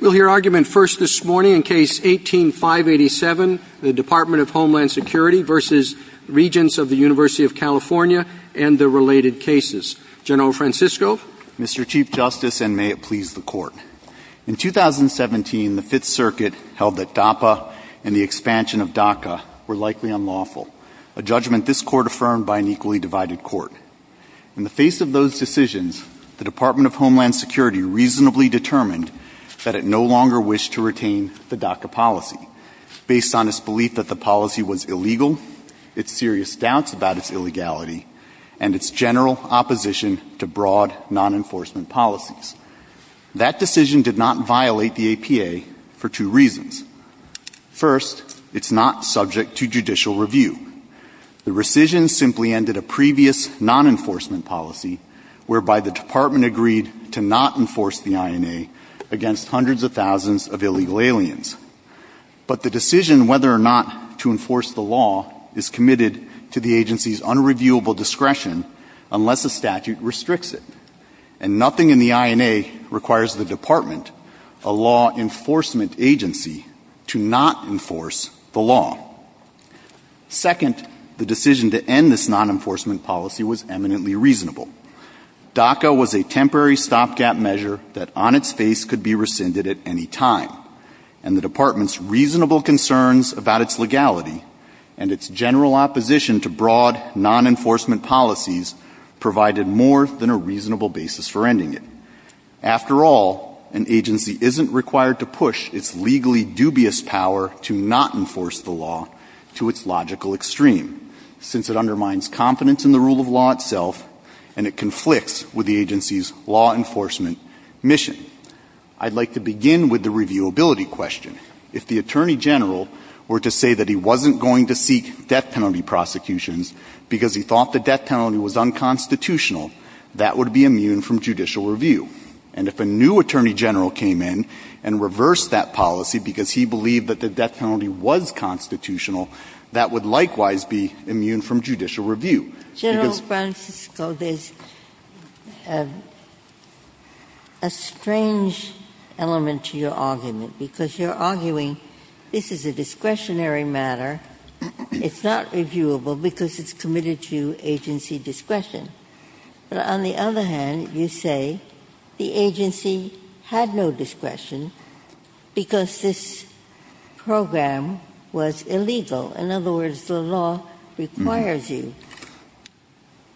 We'll hear argument first this morning in Case 18-587, the Department of Homeland Security v. Regents of the Univ. of California and their related cases. General Francisco? Mr. Chief Justice, and may it please the Court, in 2017, the Fifth Circuit held that DAPA and the expansion of DACA were likely unlawful, a judgment this Court affirmed by an equally divided Court. In the face of those decisions, the Department of Homeland Security reasonably determined that it no longer wished to retain the DACA policy, based on its belief that the policy was illegal, its serious doubts about its illegality, and its general opposition to broad non-enforcement policies. That decision did not violate the APA for two reasons. First, it's not subject to judicial review. The rescission simply ended a previous non-enforcement policy whereby the Department agreed to not enforce the INA against hundreds of thousands of illegal aliens. But the decision whether or not to enforce the law is committed to the agency's unreviewable discretion unless a statute restricts it. And nothing in the INA requires the Department, a law enforcement agency, to not enforce the law. Second, the decision to end this non-enforcement policy was eminently reasonable. DACA was a temporary stopgap measure that on its face could be rescinded at any time, and the Department's reasonable concerns about its legality and its general opposition to broad non-enforcement policies provided more than a reasonable basis for ending it. After all, an agency isn't required to push its legally dubious power to not enforce the law to its logical extreme, since it undermines confidence in the rule of law itself and it conflicts with the agency's law enforcement mission. I'd like to begin with the reviewability question. If the Attorney General were to say that he wasn't going to seek death penalty prosecutions because he thought the death penalty was unconstitutional, that would be immune from judicial review. And if a new Attorney General came in and reversed that policy because he believed that the death penalty was constitutional, that would likewise be immune from judicial review. General Francisco, there's a strange element to your argument, because you're arguing this is a discretionary matter, it's not reviewable because it's committed to agency discretion. But on the other hand, you say the agency had no discretion because this program was illegal. In other words, the law requires you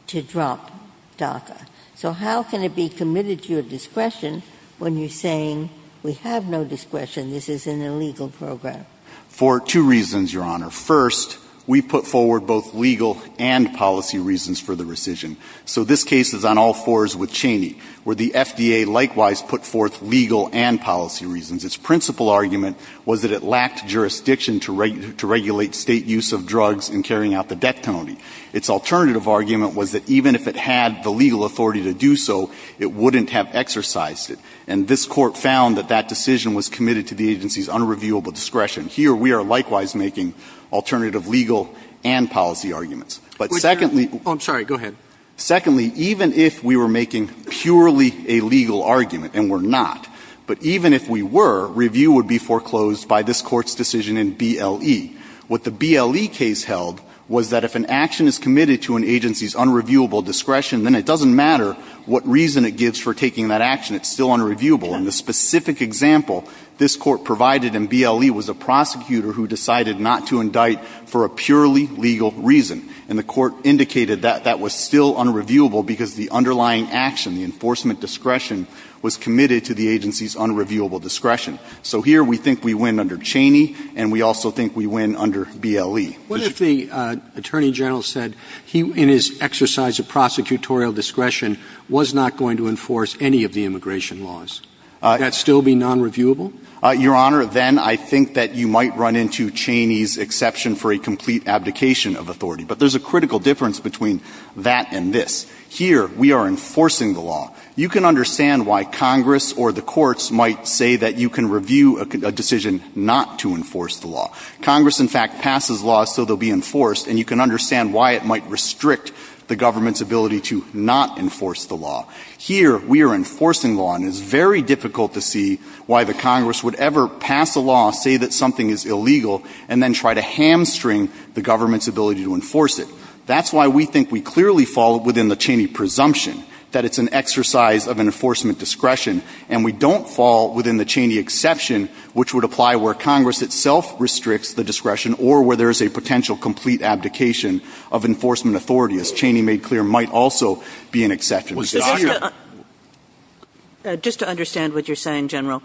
to drop DACA. So how can it be committed to your discretion when you're saying we have no discretion, this is an illegal program? For two reasons, Your Honor. First, we put forward both legal and policy reasons for the rescission. So this case is on all fours with Cheney, where the FDA likewise put forth legal and policy reasons. Its principal argument was that it lacked jurisdiction to regulate state use of drugs in carrying out the death penalty. Its alternative argument was that even if it had the legal authority to do so, it wouldn't have exercised it. And this court found that that decision was committed to the agency's unreviewable discretion. Here we are likewise making alternative legal and policy arguments. But secondly, even if we were making purely a legal argument, and we're not, but even if we were, review would be foreclosed by this court's decision in BLE. What the BLE case held was that if an action is committed to an agency's unreviewable discretion, then it doesn't matter what reason it gives for taking that action, it's still unreviewable. In the specific example, this court provided in BLE was a prosecutor who decided not to indict for a purely legal reason. And the court indicated that that was still unreviewable because the underlying action, the enforcement discretion, was committed to the agency's unreviewable discretion. So here we think we win under Cheney, and we also think we win under BLE. What if the Attorney General said he, in his exercise of prosecutorial discretion, was not going to enforce any of the immigration laws? Would that still be nonreviewable? Your Honor, then I think that you might run into Cheney's exception for a complete abdication of authority. But there's a critical difference between that and this. Here we are enforcing the law. You can understand why Congress or the courts might say that you can review a decision not to enforce the law. Congress, in fact, passes laws so they'll be enforced, and you can understand why it might restrict the government's ability to not enforce the law. Here we are enforcing the law, and it's very difficult to see why the Congress would ever pass the law, say that something is illegal, and then try to hamstring the government's ability to enforce it. That's why we think we clearly fall within the Cheney presumption that it's an exercise of enforcement discretion, and we don't fall within the Cheney exception, which would apply where Congress itself restricts the discretion or where there is a potential complete abdication of enforcement authority. As Cheney made clear, it might also be an exercise of enforcement discretion that are presumptively unreviewable,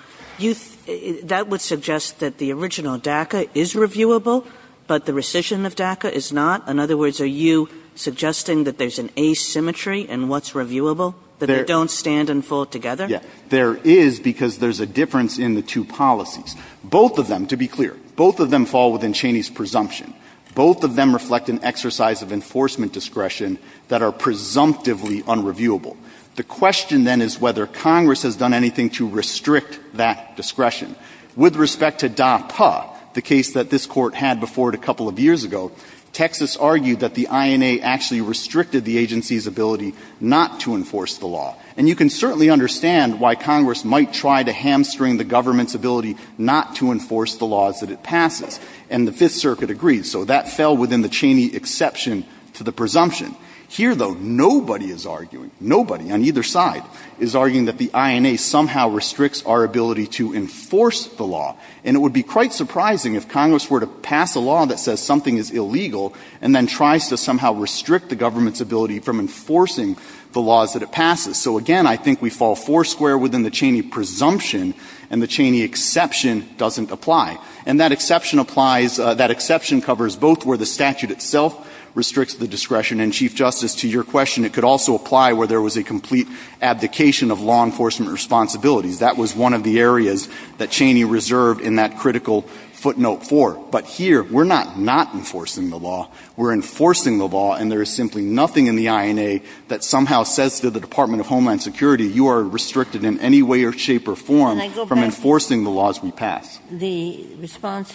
and that's what I'm not saying that the original DACA is reviewable, but the rescission of DACA is not. In other words, are you suggesting that there's an asymmetry in what's reviewable, that they don't stand and fall together? There is, because there's a difference in the two policies. Both of them, to be clear, both of them fall within Cheney's presumption. Both of them reflect an exercise of enforcement discretion that are presumptively unreviewable. The question, then, is whether Congress has done anything to restrict that discretion. With respect to DAPA, the case that this Court had before it a couple of years ago, Texas argued that the INA actually restricted the agency's ability not to enforce the law. And you can certainly understand why Congress might try to hamstring the government's ability not to enforce the laws that it passes, and the Fifth Circuit agrees. So that fell within the Cheney exception to the presumption. Here, though, nobody is arguing, nobody on either side is arguing that the INA somehow restricts our ability to enforce the law. And it would be quite surprising if Congress were to pass a law that says something is illegal and then tries to somehow restrict the government's ability from enforcing the laws that it passes. So, again, I think we fall foursquare within the Cheney presumption, and the Cheney exception doesn't apply. And that exception applies, that exception covers both where the statute itself restricts the discretion, and, Chief Justice, to your question, it could also apply where there was a complete abdication of law enforcement responsibilities. That was one of the areas that Cheney reserved in that critical footnote four. But here, we're not not enforcing the law. We're enforcing the law, and there is simply nothing in the INA that somehow says to the Department of Homeland Security, you are restricted in any way or shape or form from enforcing the laws we pass. The response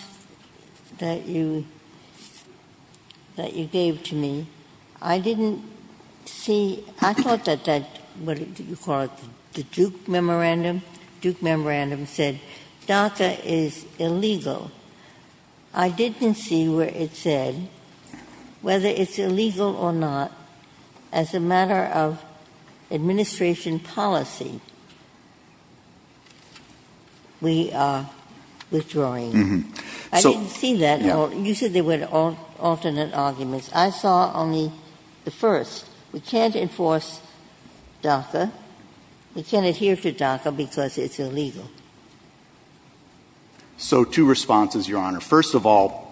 that you, that you gave to me, I didn't see, I thought that that was what you called the Duke Memorandum. Duke Memorandum said DACA is illegal. I didn't see where it said whether it's illegal or not as a matter of administration policy. We are withdrawing. I didn't see that. You said there were alternate arguments. I saw only the first. We can't enforce DACA. We can't adhere to DACA because it's illegal. So two responses, Your Honor. First of all,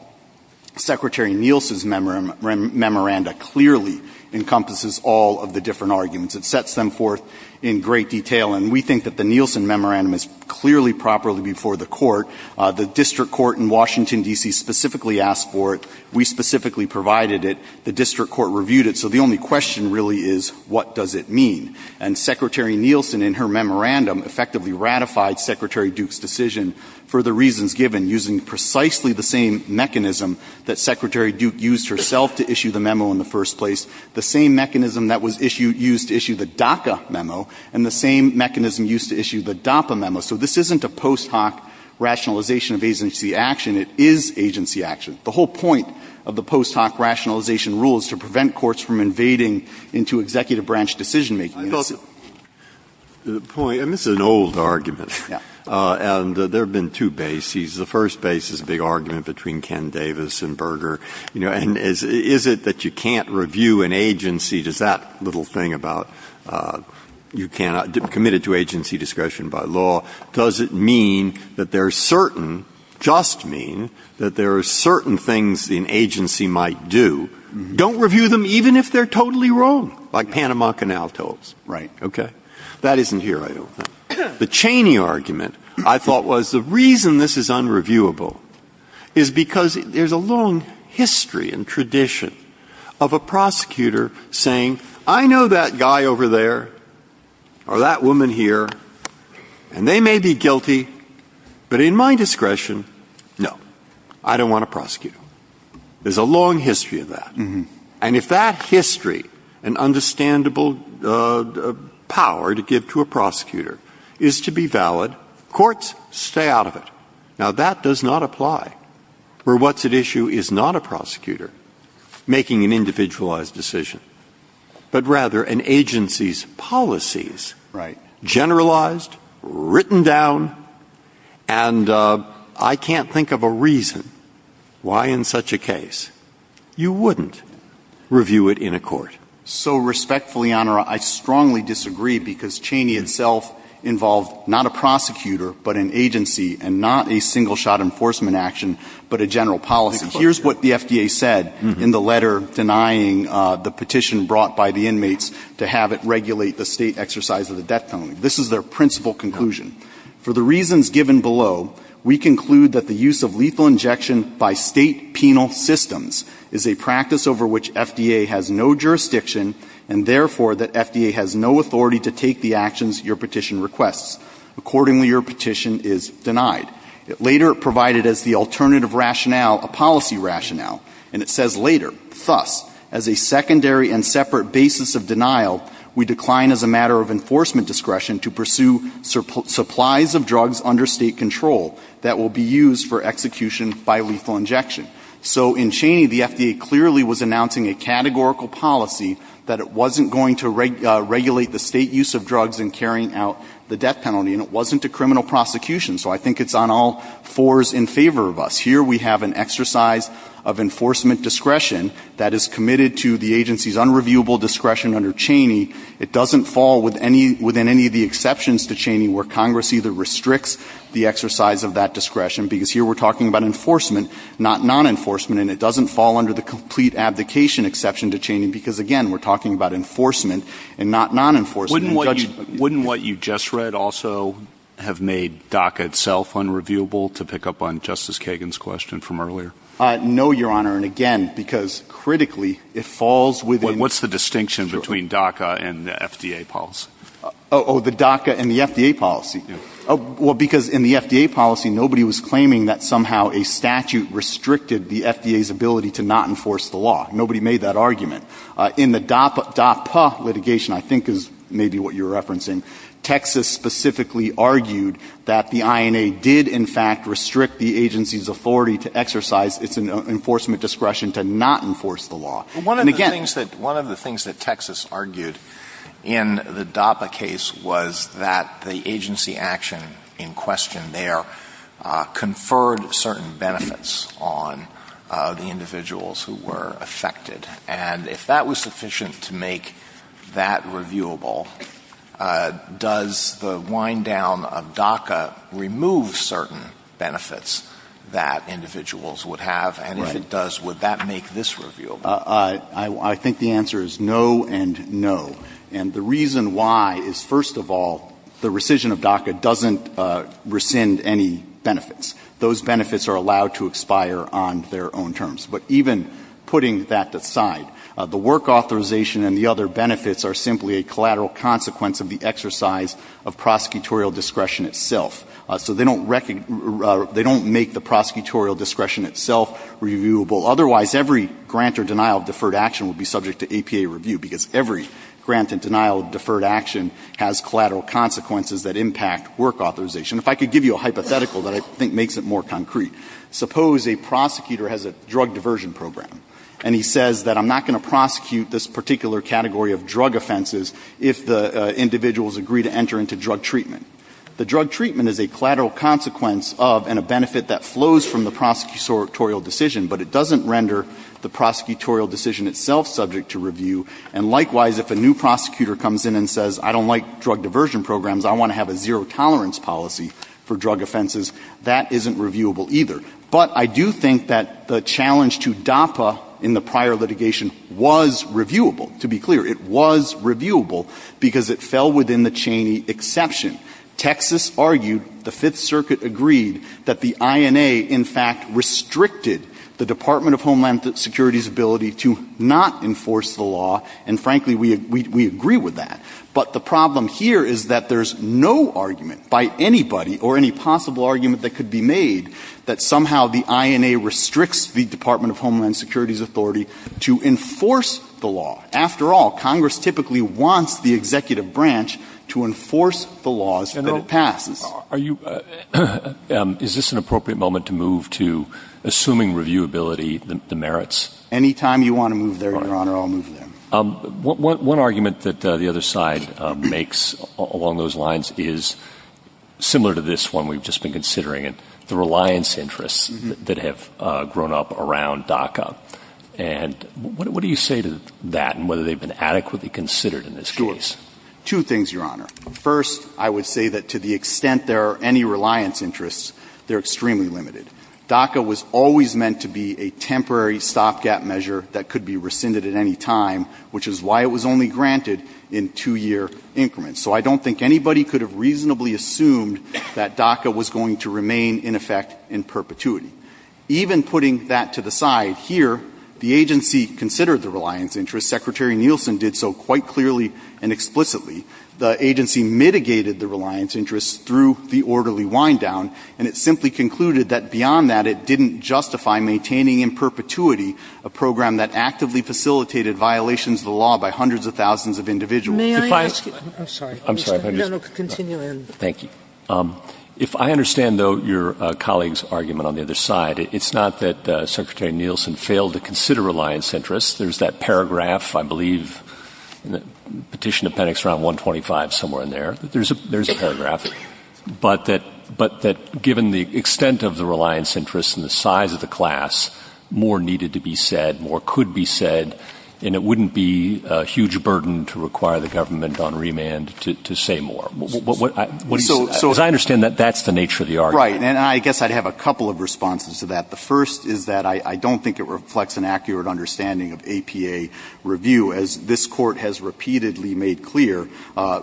Secretary Nielsen's memorandum clearly encompasses all of the different arguments. It sets them forth in great detail, and we think that the Nielsen Memorandum is clearly properly before the court. The district court in Washington, D.C. specifically asked for it. We specifically provided it. The district court reviewed it. So the only question really is, what does it mean? And Secretary Nielsen in her memorandum effectively ratified Secretary Duke's decision for the reasons given using precisely the same mechanism that Secretary Duke used herself to issue the memo in the first place, the same mechanism that was used to issue the DACA memo, and the same mechanism used to issue the DAPA memo. So this isn't a post hoc rationalization of agency action. It is agency action. The whole point of the post hoc rationalization rule is to prevent courts from invading into executive branch decision-making. I thought the point, and this is an old argument, and there have been two bases. The first base is a big argument between Ken Davis and Berger. Is it that you can't review an agency? Does that little thing about you cannot, committed to agency discretion by law, does it mean that there are certain, just mean, that there are certain things an agency might do? Don't review them even if they're totally wrong, like Panama Canal totes. Right, okay. That reason this is unreviewable is because there's a long history and tradition of a prosecutor saying, I know that guy over there, or that woman here, and they may be guilty, but in my discretion, no, I don't want to prosecute them. There's a long history of that. And if that history and understandable power to give to a prosecutor is to be valid, courts stay out of it. Now that does not apply where what's at issue is not a prosecutor making an individualized decision, but rather an agency's policies, generalized, written down, and I can't think of a reason why in such a case you wouldn't review it in a court. So respectfully, Honor, I strongly disagree because Cheney himself involved not a prosecutor, but an agency, and not a single-shot enforcement action, but a general policy. Here's what the FDA said in the letter denying the petition brought by the inmates to have it regulate the state exercise of the death penalty. This is their principal conclusion. For the reasons given below, we conclude that the use of lethal injection by state penal systems is a practice over which FDA has no jurisdiction, and therefore that FDA has no authority to take the actions your petition requests. Accordingly, your petition is denied. Later it provided as the alternative rationale a policy rationale, and it says later, thus, as a secondary and separate basis of denial, we decline as a matter of enforcement discretion to pursue supplies of drugs under state control that will be used for execution by lethal injection. So in Cheney, the FDA clearly was announcing a categorical policy that it wasn't going to regulate the state use of drugs in carrying out the death penalty, and it wasn't a criminal prosecution. So I think it's on all fours in favor of us. Here we have an exercise of enforcement discretion that is committed to the agency's unreviewable discretion under Cheney. It doesn't fall within any of the exceptions to Cheney where Congress either restricts the exercise of that discretion, because here we're talking about enforcement, not non-enforcement, and it doesn't fall under the complete abdication exception to Cheney because, again, we're talking about enforcement and not non-enforcement. Wouldn't what you just read also have made DACA itself unreviewable, to pick up on Justice Kagan's question from earlier? No, Your Honor, and again, because critically, it falls within... What's the distinction between DACA and the FDA policy? Oh, the DACA and the FDA policy. Well, because in the FDA policy, nobody was claiming that somehow a statute restricted the FDA's ability to not enforce the law. Nobody made that argument. In the DAPA litigation, I think is maybe what you're referencing, Texas specifically argued that the INA did, in fact, restrict the agency's authority to exercise its enforcement discretion to not enforce the law. And again... One of the things that Texas argued in the DAPA case was that the agency action in question there conferred certain benefits on the individuals who were affected. And if you look at the case, if that was sufficient to make that reviewable, does the wind down of DACA remove certain benefits that individuals would have? And if it does, would that make this reviewable? I think the answer is no and no. And the reason why is, first of all, the rescission of DACA doesn't rescind any benefits. Those benefits are allowed to expire on their own terms. But even putting that aside, the work authorization and the other benefits are simply a collateral consequence of the exercise of prosecutorial discretion itself. So they don't make the prosecutorial discretion itself reviewable. Otherwise, every grant or denial of deferred action would be subject to APA review because every grant and denial of deferred action has collateral consequences that impact work authorization. If I could give you a hypothetical that I think makes it more concrete. Suppose a prosecutor has a drug diversion program and he says that I'm not going to prosecute this particular category of drug offenses if the individuals agree to enter into drug treatment. The drug treatment is a collateral consequence of and a benefit that flows from the prosecutorial decision, but it doesn't render the prosecutorial decision itself subject to review. And likewise, if a new prosecutor comes in and says I don't like drug diversion programs, I want to have a zero tolerance policy for drug offenses, that isn't reviewable either. But I do think that the challenge to DAPA in the prior litigation was reviewable, to be clear. It was reviewable because it fell within the Cheney exception. Texas argued, the Fifth Circuit agreed, that the INA in fact restricted the Department of Homeland Security's ability to not enforce the law, and frankly, we agree with that. But the problem here is that there's no argument by anybody or any possible argument that could be made that somehow the INA restricts the Department of Homeland Security's authority to enforce the law. After all, Congress typically wants the executive branch to enforce the laws that it passed. Are you... Is this an appropriate moment to move to assuming reviewability, the merits? Anytime you want to move there, Your Honor, I'll move there. One argument that the other side makes along those lines is similar to this one we've just been considering, the reliance interests that have grown up around DACA. And what do you say to that and whether they've been adequately considered in this case? Two things, Your Honor. First, I would say that to the extent there are any reliance interests, they're extremely limited. DACA was always meant to be a temporary stopgap measure that could be rescinded at any time, which is why it was only granted in two-year increments. So I don't think anybody could have reasonably assumed that DACA was going to remain in effect in perpetuity. Even putting that to the side here, the agency considered the reliance interests. Secretary Nielsen did so quite clearly and explicitly. The agency mitigated the reliance interests through the orderly wind-down, and it simply concluded that beyond that, it didn't justify maintaining in perpetuity a program that actively facilitated violations of the law by hundreds of thousands of individuals. May I ask you? I'm sorry. I'm sorry. No, no, continue. Thank you. If I understand, though, your colleague's argument on the other side, it's not that Secretary Nielsen failed to consider reliance interests. There's that paragraph, I believe, in the Petition Appendix, around 125, somewhere in there. There's a paragraph. But that given the extent of the reliance interests and the size of the class, more needed to be said, more could be said, and it wouldn't be a huge burden to require the government on remand to say more. So as I understand that, that's the nature of the argument. Right. And I guess I'd have a couple of responses to that. The first is that I don't think it reflects an accurate understanding of APA review. As this Court has repeatedly made clear,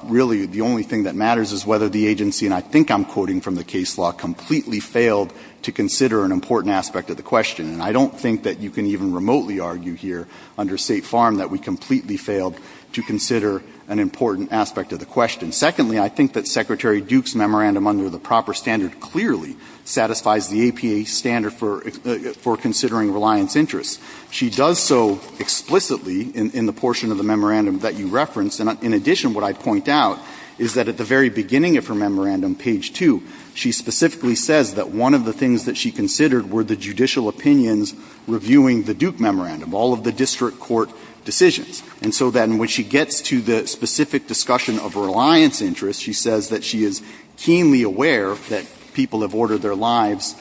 really, the only thing that matters is whether the agency, and I think I'm quoting from the case law, completely failed to consider an important aspect of the question. And I don't think that you can even remotely argue here under State Farm that we completely failed to consider an important aspect of the question. Secondly, I think that Secretary Duke's memorandum under the proper standard clearly satisfies the APA standard for considering reliance interests. She does so explicitly in the portion of the memorandum that you referenced. And in addition, what I point out is that at the very beginning of her memorandum, page 2, she specifically says that one of the things that she considered were the judicial opinions reviewing the Duke memorandum, all of the district court decisions. And so then when she gets to the specific discussion of reliance interests, she says that she is keenly aware that people have ordered their lives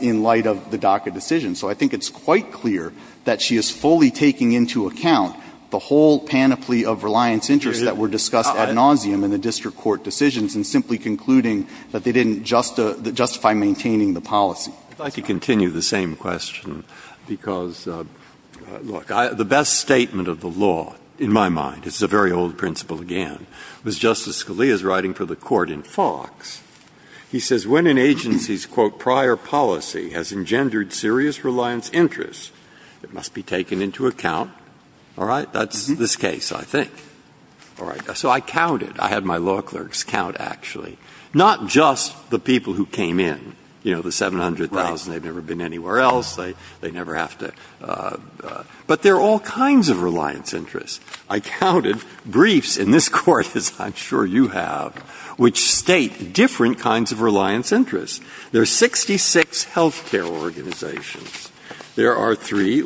in light of the DACA decision. So I think it's quite clear that she is fully taking into account the whole panoply of reliance interests that were discussed ad nauseum in the district court decisions and simply concluding that they didn't justify maintaining the policy. I'd like to continue the same question because, look, the best statement of the law, in my mind, this is a very old principle again, was Justice Scalia's writing for the court in Fox. He says, when an agency's, quote, prior policy has engendered serious reliance interests, it must be taken into account. All right? That's this case, I think. All right. And I think that's actually not just the people who came in. You know, the 700,000, they've never been anywhere else. They never have to. But there are all kinds of reliance interests. I counted briefs in this court, as I'm sure you have, which state different kinds of reliance interests. There are 66 health care organizations. There are three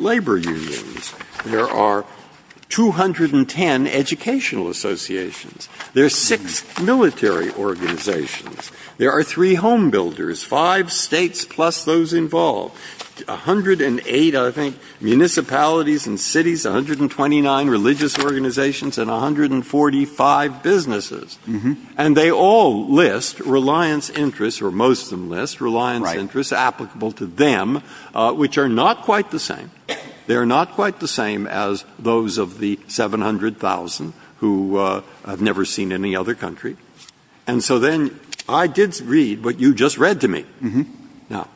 home builders, five states plus those involved, 108, I think, municipalities and cities, 129 religious organizations, and 145 businesses. And they all list reliance interests, or most of them list reliance interests applicable to them, which are not quite the same. They are not quite the same as those of the 700,000 who have never seen any other country. And so then I did read what you just read to me. Now,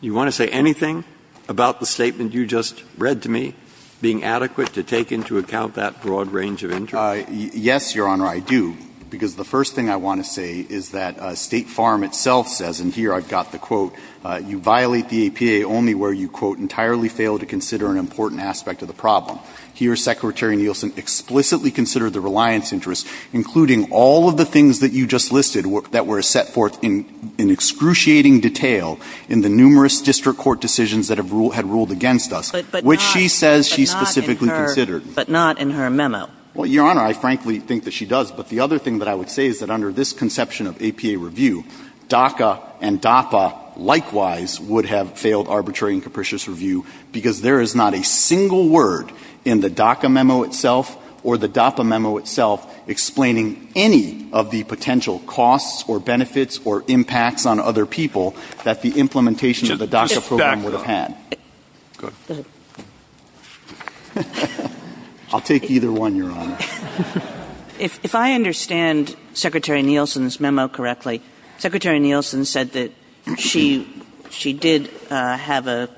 you want to say anything about the statement you just read to me being adequate to take into account that broad range of interest? Yes, Your Honor, I do. Because the first thing I want to say is that State Farm itself says, and here I've got the quote, you violate the APA only where you, quote, entirely fail to consider an important aspect of the problem. Here, Secretary Nielsen explicitly considered the reliance interests, including all of the things that you just listed that were set forth in excruciating detail in the numerous district court decisions that have ruled against us, which she says she specifically considered. But not in her memo. Well, Your Honor, I frankly think that she does. But the other thing that I would say is that under this conception of APA review, DACA and DAPA likewise would have failed arbitrary and capricious review because there is not a single word in the DACA memo itself or the DAPA memo itself explaining any of the potential costs or benefits or impacts on other people that the implementation of the DACA program would have had. I'll take either one, Your Honor. If I understand Secretary Nielsen's memo correctly, Secretary Nielsen said that she did have a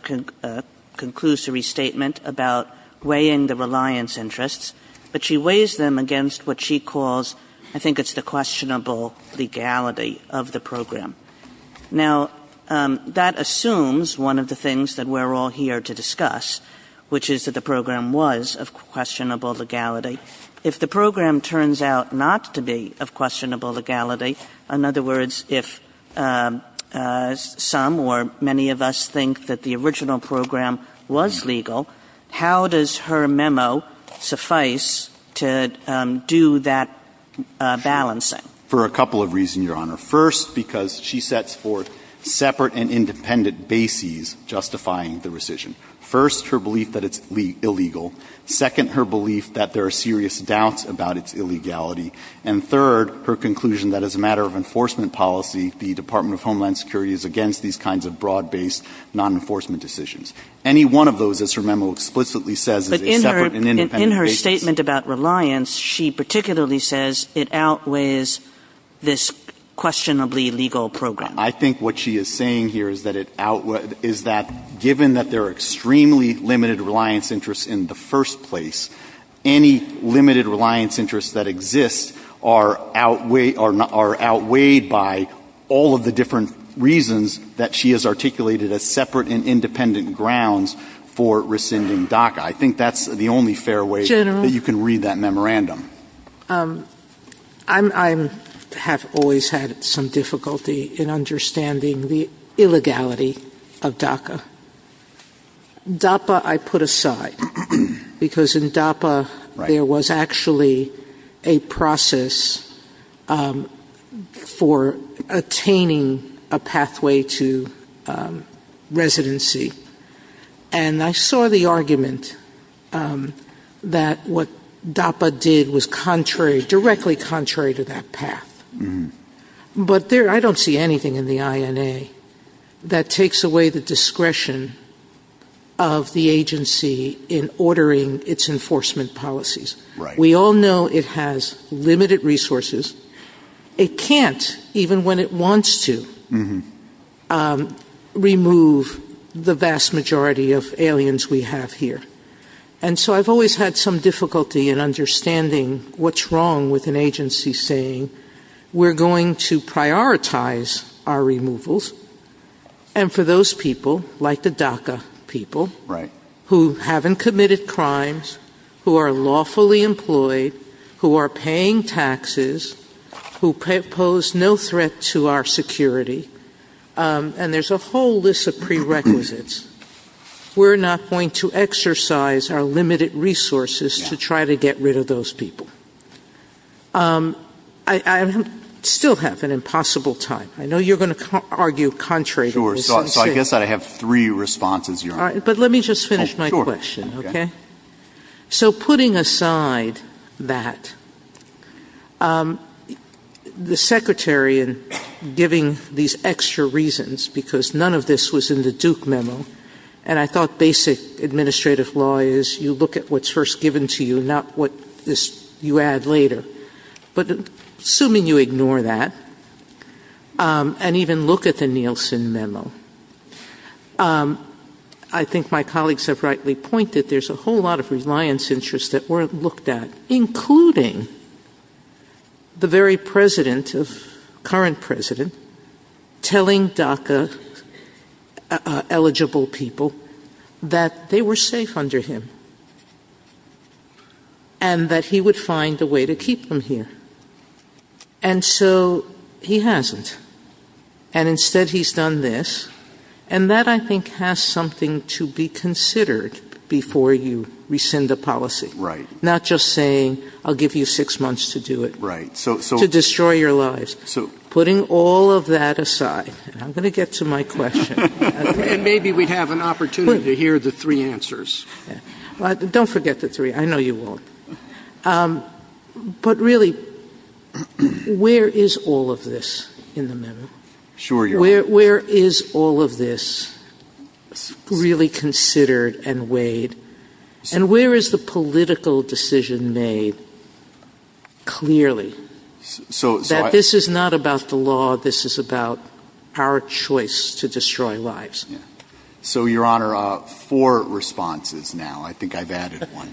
conclusory statement about weighing the reliance interests, but she weighs them against what she calls, I think it's the questionable legality of the program. Now, that assumes one of the things that we're all here to discuss, which is that the program was of questionable legality. If the program turns out not to be of questionable legality, in other words, if some or many of us think that the original program was legal, how does her memo suffice to do that balancing? For a couple of reasons, Your Honor. First, because she sets forth separate and independent bases justifying the rescission. First, her belief that it's illegal. Second, her belief that there are serious doubts about its illegality. And third, her conclusion that as a matter of enforcement policy, the Department of Homeland Security is against these kinds of broad-based non-enforcement decisions. Any one of those that her memo explicitly says is a separate and independent base. But in her statement about reliance, she particularly says it outweighs this questionably legal program. I think what she is saying here is that given that there are extremely limited reliance interests in the first place, any limited reasons that she has articulated as separate and independent grounds for rescinding DACA, I think that's the only fair way that you can read that memorandum. I have always had some difficulty in understanding the illegality of DACA. In DAPA, I put aside because in DAPA, there was actually a process for attaining the DAPA. And I saw the argument that what DAPA did was directly contrary to that path. But I don't see anything in the INA that takes away the discretion of the agency in ordering its enforcement policies. We all know it has limited resources. It can't, even when it is limited, remove the vast majority of aliens we have here. And so I have always had some difficulty in understanding what is wrong with an agency saying we are going to prioritize our removals. And for those people, like the DACA people, who haven't committed crimes, who are lawfully employed, who are paying taxes, who pose no threat to our security, and there's a whole list of prerequisites, we're not going to exercise our limited resources to try to get rid of those people. I still have an impossible time. I know you're going to argue contrary to what was said. Sure. So I guess I have three responses here. But let me just finish my question, okay? So putting aside that, the Secretary in giving these extra reasons, because none of this was in the Duke memo, and I thought basic administrative law is you look at what's first given to you, not what you add later. But assuming you ignore that, and even look at the Nielsen memo, I think my colleagues have rightly pointed, there's a whole lot of reliance interests that weren't looked at, including the very President, current President, telling DACA eligible people that they were safe under him, and that he would find a way to keep them here. And so he hasn't. And instead he's done this, and that I think has something to be considered before you rescind the policy. Not just saying, I'll give you six months to do it, to destroy your lives. Putting all of that aside, I'm going to get to my question. And maybe we have an opportunity to hear the three answers. Don't forget the three, I know you won't. But really, where is all of this in the memo? Where is all of this really considered and weighed? And where is the political decision made clearly? That this is not about the law, this is about our choice to destroy lives. So Your Honor, four responses now. I think I've added one.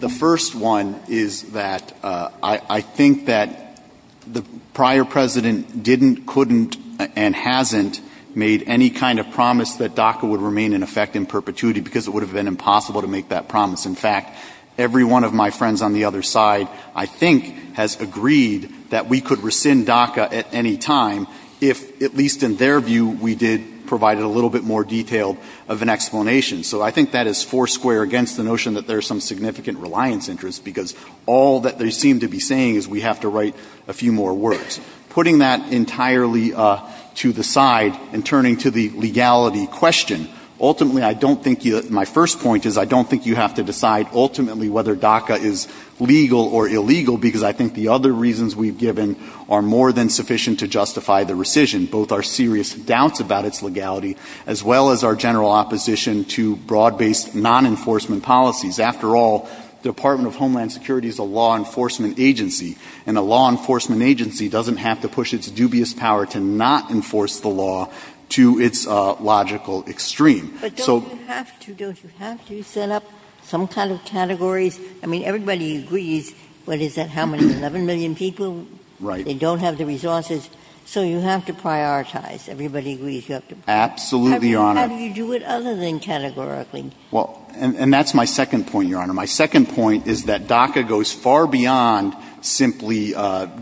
The first one is that I think that the prior President didn't, couldn't, and hasn't made any kind of promise that DACA would remain in effect in perpetuity, because it would have been impossible to make that promise. In fact, every one of my friends on the other side, I think, has agreed that we could rescind DACA at any time if, at least in their view, we did provide a little bit more detail of an explanation. So I think that is four square against the notion that there's some significant reliance interest, because all that they seem to be saying is we have to write a few more works. Putting that entirely to the side and turning to the legality question, ultimately I don't think you, my first point is I don't think you have to decide ultimately whether DACA is legal or illegal, because I think the other reasons we've given are more than sufficient to justify the rescission, both our serious doubts about its legality, as well as our general opposition to broad-based non-enforcement policies. After all, the Department of Homeland Security is a law enforcement agency, and a law enforcement agency doesn't have to push its dubious power to not enforce the law to its logical extreme. But don't you have to, don't you have to set up some kind of category? I mean, everybody agrees, but is that how many, 11 million people? They don't have the resources. So you have to prioritize. Everybody agrees. Absolutely, Your Honor. How do you do it other than categorically? And that's my second point, Your Honor. My second point is that DACA goes far beyond simply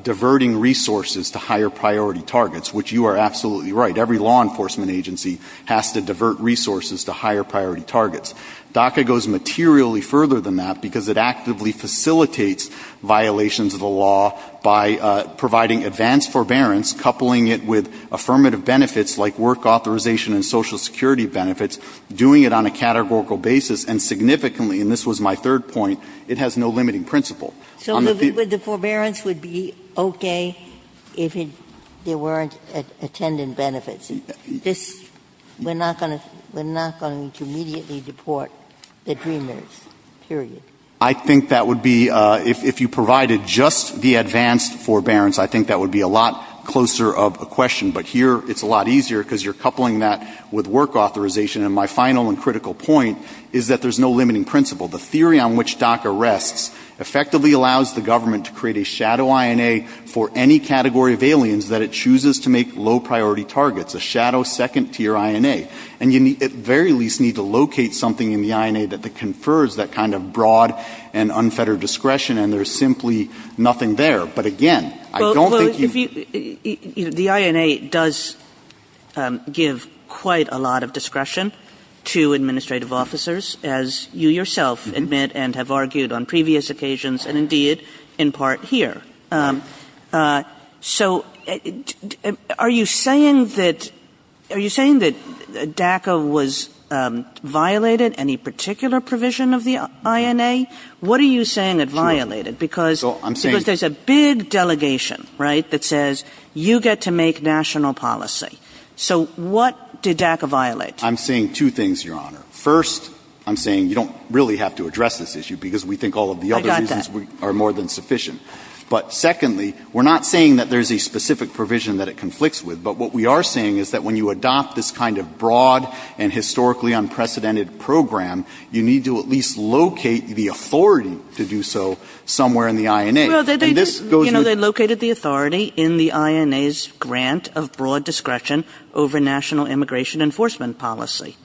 diverting resources to higher priority targets, which you are absolutely right. Every law enforcement agency has to divert resources to higher priority targets. DACA goes materially further than that, because it actively facilitates violations of the law by providing advanced forbearance, coupling it with affirmative benefits like work authorization and Social Security benefits, doing it on a categorical basis, and significantly, and this was my third point, it has no limiting principle. So the forbearance would be okay if it weren't attendant benefits. We're not going to immediately deport the dreamers. I think that would be, if you provided just the advanced forbearance, I think that would be a lot closer of a question. But here, it's a lot easier because you're coupling that with work authorization. And my final and critical point is that there's no limiting principle. The theory on which DACA rests effectively allows the government to create a shadow INA for any category of aliens that it chooses to make low priority targets, a shadow second tier INA. And you very least need to locate something in the INA that confers that kind of broad and unfettered discretion, and there's simply nothing there. But again, I don't think you... The INA does give quite a lot of discretion to administrative officers, as you yourself admit and have argued on previous occasions, and indeed, in part here. So are you saying that DACA was violated, any particular provision of the INA? What are you saying that violated? Because there's a big delegation that says, you get to make national policy. So what did DACA violate? I'm saying two things, Your Honor. First, I'm saying you don't really have to address this issue because we think all of the other reasons are more than sufficient. But secondly, we're not saying that there's a specific provision that it conflicts with, but what we are saying is that when you adopt this kind of broad and historically unprecedented program, you need to at least locate the authority to do so somewhere in the INA. No, they located the authority in the INA's grant of broad discretion over national immigration enforcement policy.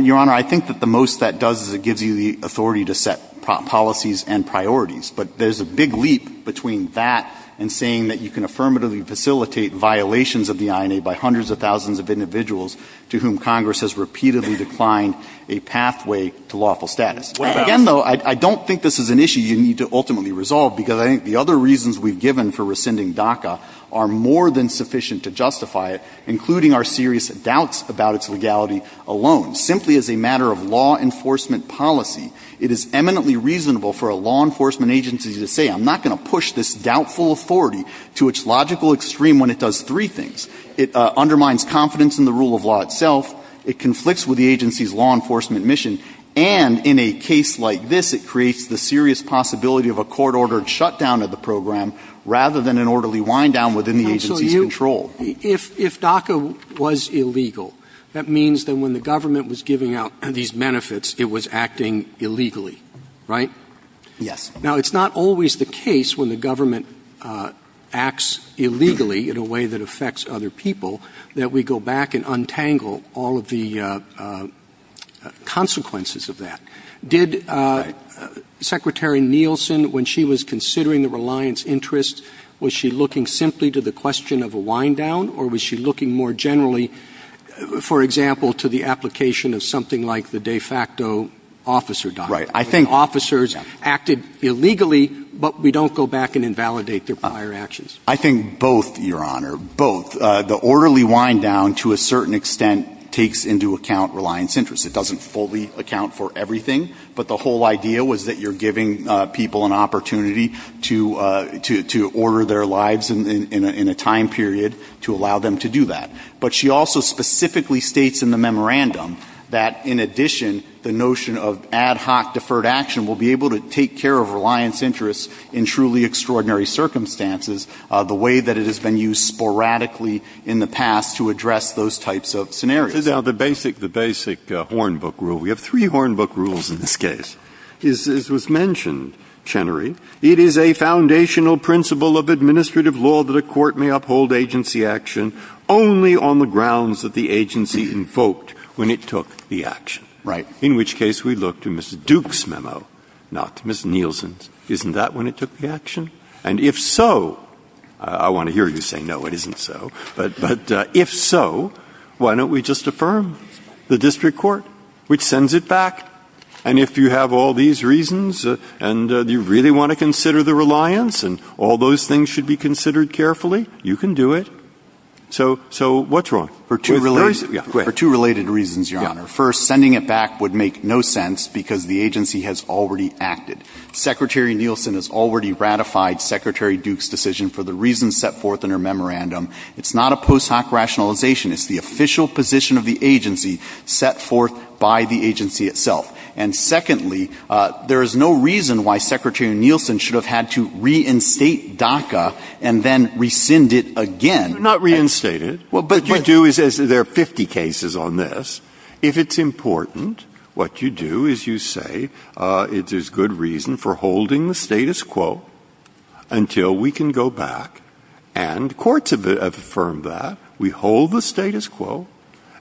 Your Honor, I think that the most that does is it gives you the authority to set policies and priorities. But there's a big leap between that and saying that you can affirmatively facilitate violations of the INA by hundreds of thousands of individuals to whom Congress has repeatedly declined a pathway to lawful status. Again, though, I don't think this is an issue you need to ultimately resolve because I think the other reasons we've given for rescinding DACA are more than sufficient to justify it, including our serious doubts about its legality alone. Simply as a matter of law enforcement policy, it is eminently reasonable for a law enforcement agency to say, I'm not going to go extreme when it does three things. It undermines confidence in the rule of law itself, it conflicts with the agency's law enforcement mission, and in a case like this, it creates the serious possibility of a court-ordered shutdown of the program rather than an orderly wind-down within the agency's control. If DACA was illegal, that means that when the government was giving out these benefits, it was acting illegally, right? Yes. Now, it's not always the case when the government acts illegally in a way that affects other people that we go back and untangle all of the consequences of that. Did Secretary Nielsen, when she was considering the reliance interest, was she looking simply to the question of a wind-down or was she looking more generally, for example, to the application of something like the de facto officer document, where officers acted illegally, but we don't go back and invalidate their prior actions? I think both, Your Honor, both. The orderly wind-down, to a certain extent, takes into account reliance interest. It doesn't fully account for everything, but the whole idea was that you're giving people an opportunity to order their lives in a time period to allow them to do that. But she also specifically states in the memorandum that, in addition, the notion of ad hoc deferred action will be able to take care of reliance interest in truly extraordinary circumstances the way that it has been used sporadically in the past to address those types of scenarios. Now, the basic Hornbook rule, we have three Hornbook rules in this case. As was mentioned, Chenery, it is a foundational principle of administrative law that a court may uphold agency action only on the grounds that the agency invoked when it took the action, right? In which case, we look to Mr. Duke's memo, not to Ms. Nielsen's. Isn't that when it took the action? And if so, I want to hear you say, no, it isn't so, but if so, why don't we just affirm the district court, which sends it back? And if you have all these reasons and you really want to consider the reliance and all those things should be considered carefully, you can do it. So what's wrong? For two related reasons, Your Honor. First, sending it back would make no sense because the agency has already acted. Secretary Nielsen has already ratified Secretary Duke's decision for the reasons set forth in her memorandum. It's not a post hoc rationalization. It's the official position of the agency set forth by the agency itself. And secondly, there is no reason why Secretary Nielsen should have had to reinstate DACA and then rescind it again. Not reinstated. What you do is there are 50 cases on this. If it's important, what you do is you say, it is good reason for holding the status quo until we can go back. And courts have affirmed that. We hold the status quo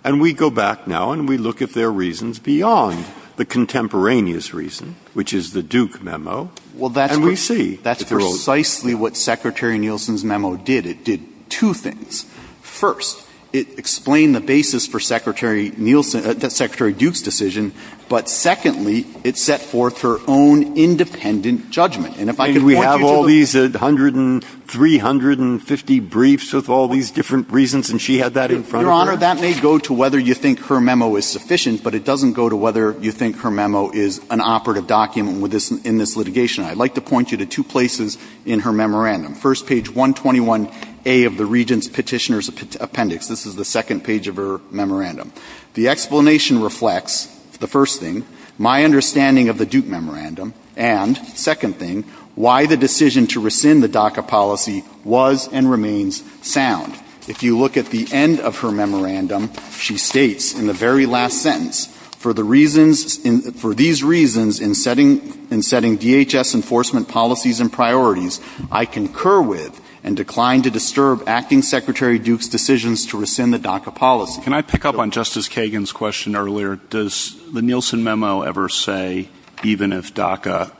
and we go back now and we look at their reasons beyond the contemporaneous reason, which is the Duke memo. Well, that's precisely what Secretary Nielsen's memo did. It did two things. First, it explained the basis for Secretary Duke's decision. But secondly, it set forth her own independent judgment. And we have all these 150, 350 briefs with all these different reasons and she had that in front of her. Now, that may go to whether you think her memo is sufficient, but it doesn't go to whether you think her memo is an operative document in this litigation. I'd like to point you to two places in her memorandum. First, page 121A of the Regent's Petitioner's Appendix. This is the second page of her memorandum. The explanation reflects, the first thing, my understanding of the Duke memorandum and, second thing, why the decision to rescind the DACA policy was and remains sound. If you look at the end of her memorandum, she states in the very last sentence, for the reasons, for these reasons in setting DHS enforcement policies and priorities, I concur with and decline to disturb Acting Secretary Duke's decisions to rescind the DACA policy. Can I pick up on Justice Kagan's question earlier? Does the Nielsen memo ever say, even if DACA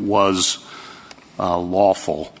was lawful,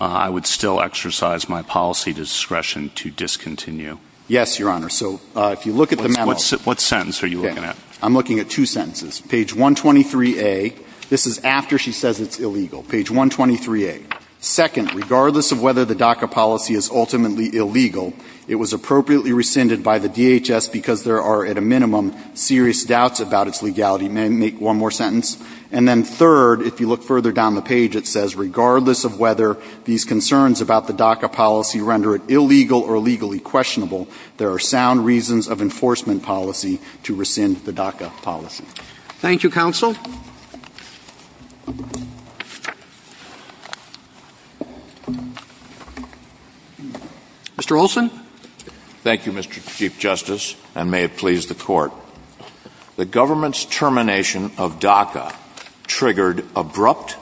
I would still exercise my policy discretion to discontinue? Yes, Your Honor. So, if you look at the memo... What sentence are you looking at? I'm looking at two sentences. Page 123A. This is after she says it's illegal. Page 123A. Second, regardless of whether the DACA policy is ultimately illegal, it was appropriately rescinded by the DHS because there are, at a minimum, serious doubts about its legality. May I make one more sentence? And then third, if you look further down the page, it says, regardless of whether these concerns about the DACA policy render it illegal or legally questionable, there are sound reasons of enforcement policy to rescind the DACA policy. Thank you, Mr. Chief Justice, and may it please the Court. The government's termination of DACA triggered abrupt,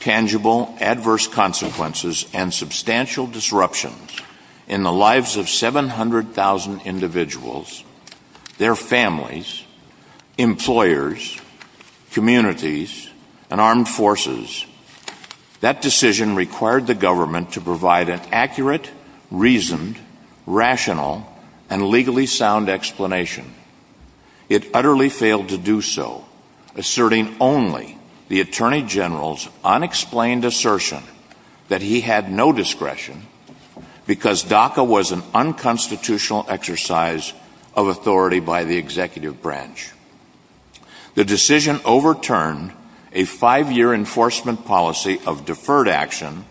tangible, adverse consequences and substantial disruptions in the lives of 700,000 individuals, their families, employers, communities, and armed forces. That decision required the government to provide an accurate, reasoned, rational, and legally sound explanation. It utterly failed to do so, asserting only the Attorney General's unexplained assertion that he had no discretion because DACA was an unconstitutional exercise of authority by the Executive Branch. The decision overturned a five-year enforcement policy of deferred action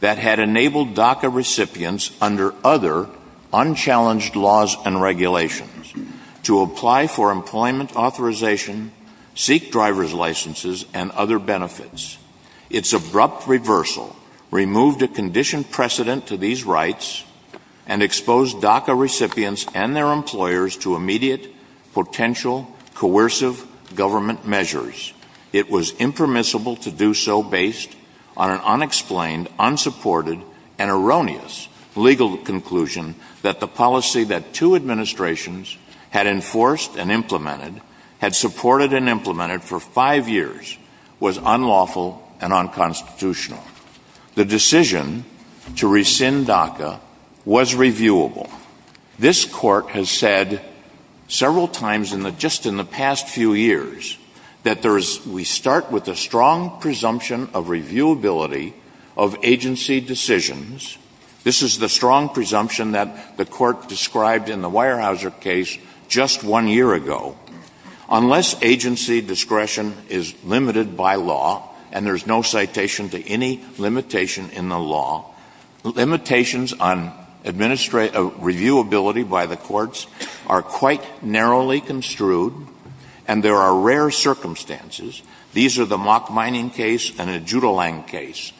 that had enabled DACA recipients under other, unchallenged laws and regulations to apply for employment authorization, seek driver's licenses, and other benefits. Its abrupt reversal removed a conditioned precedent to these rights and exposed DACA recipients and their employers to immediate, potential, coercive government measures. It was impermissible to do so based on an unexplained, unsupported, and erroneous legal conclusion that the policy that two administrations had enforced and implemented, had supported and implemented for five years, was unlawful and unconstitutional. The decision to rescind DACA was reviewable. This Court has said several times just in the past few years that we start with a strong presumption of reviewability of agency decisions. This is the strong presumption that the Court described in the Weyerhaeuser case just one year ago. Unless agency discretion is limited by law, and there is no citation to any limitation in the law, limitations on reviewability by the courts are quite narrowly construed, and there are rare circumstances. These are the Mock Mining case and the Judelang case.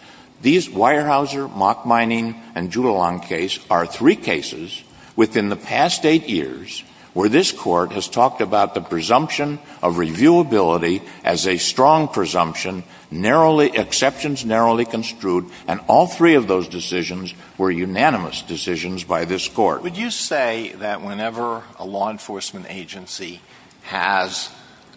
These Weyerhaeuser, Mock Mining, and Judelang cases are three cases within the past eight years where this Court has talked about the presumption of reviewability as a strong presumption, exceptions narrowly construed, and all three of those decisions were unanimous decisions by this Court. Would you say that whenever a law enforcement agency has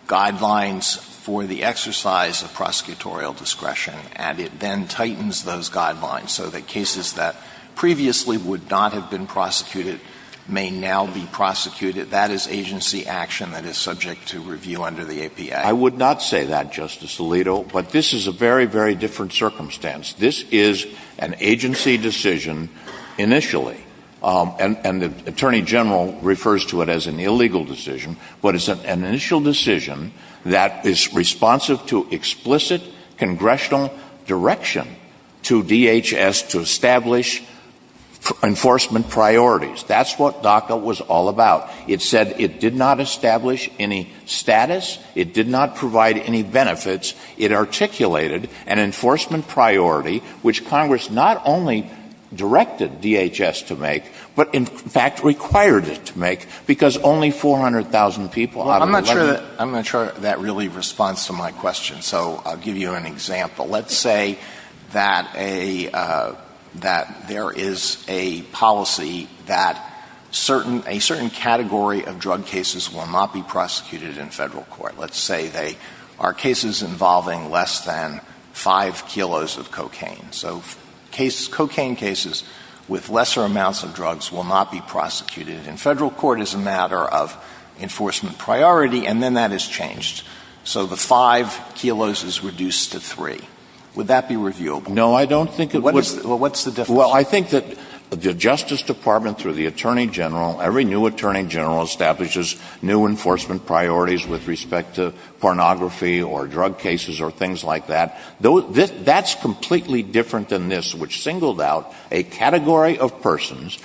guidelines for the exercise of prosecutorial discretion, and it then tightens those guidelines so that cases that previously would not have been prosecuted may now be prosecuted, that is agency action that is subject to review under the APA? I would not say that, Justice Alito, but this is a very, very different circumstance. This is an agency decision initially, and the Attorney General refers to it as an illegal decision, but it's an initial decision that is responsive to explicit congressional direction to DHS to establish enforcement priorities. That's what DACA was all about. It said it did not establish any status. It did not provide any benefits. It articulated an enforcement priority which Congress not only directed DHS to make, but in fact required it to make, because only 400,000 people out of the legislature I'm not sure that really responds to my question, so I'll give you an example. Let's say that there is a policy that a certain category of drug cases will not be prosecuted in federal court. Let's say they are cases involving less than 5 kilos of cocaine. So cocaine cases with lesser amounts of drugs will not be prosecuted in federal court as a matter of enforcement priority, and then that is changed. So the 5 kilos is reduced to 3. Would that be reviewable? No, I don't think it would. Well, what's the difference? Well, I think that the Justice Department through the Attorney General, every new Attorney General establishes new enforcement priorities with respect to pornography or drug cases or things like that. That's completely different than this, which singled out a category of persons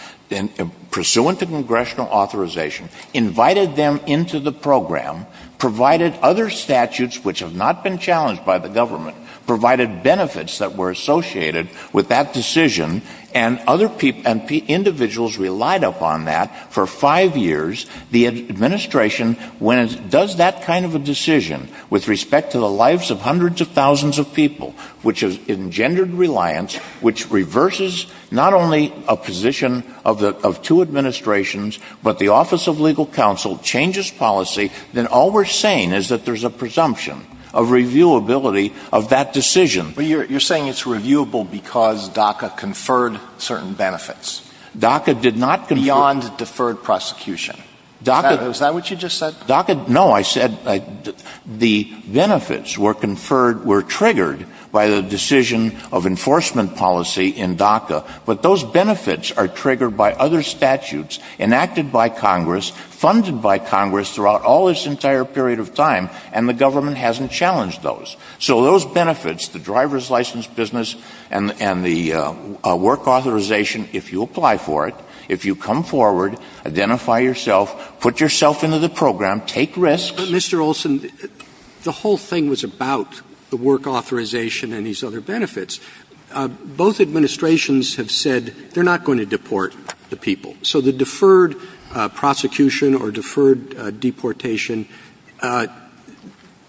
pursuant to congressional authorization, invited them into the program, provided other people associated with that decision, and the individuals relied upon that for 5 years. The administration, when it does that kind of a decision with respect to the lives of hundreds of thousands of people, which is engendered reliance, which reverses not only a position of two administrations, but the Office of Legal Counsel changes policy, then all we're saying is that there's a presumption of reviewability of that decision. But you're saying it's reviewable because DACA conferred certain benefits beyond deferred prosecution. Is that what you just said? No, I said the benefits were triggered by the decision of enforcement policy in DACA, but those benefits are triggered by other statutes enacted by Congress, funded by Congress throughout all this entire period of time, and the government hasn't challenged those. So those benefits, the driver's license business and the work authorization, if you apply for it, if you come forward, identify yourself, put yourself into the program, take risks. Mr. Olson, the whole thing was about the work authorization and these other benefits. Both administrations have said they're not going to deport the people. So the deferred prosecution or deferred deportation,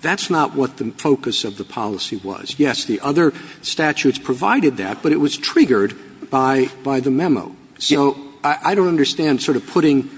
that's not what the focus of the policy was. Yes, the other statutes provided that, but it was triggered by the memo. So I don't understand sort of putting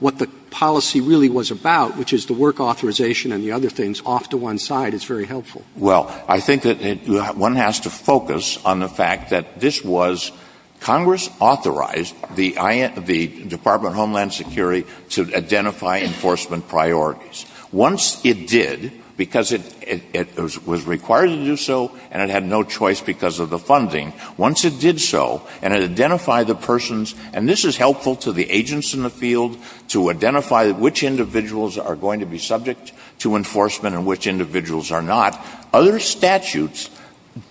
what the policy really was about, which is the work authorization and the other things off to one side. It's very helpful. Well, I think that one has to focus on the fact that this was Congress authorized the Department of Homeland Security to identify enforcement priorities. Once it did, because it was required to do so and it had no choice because of the funding, once it did so and it identified the persons, and this is helpful to the agents in the field to identify which individuals are going to be subject to enforcement and which individuals are not, other statutes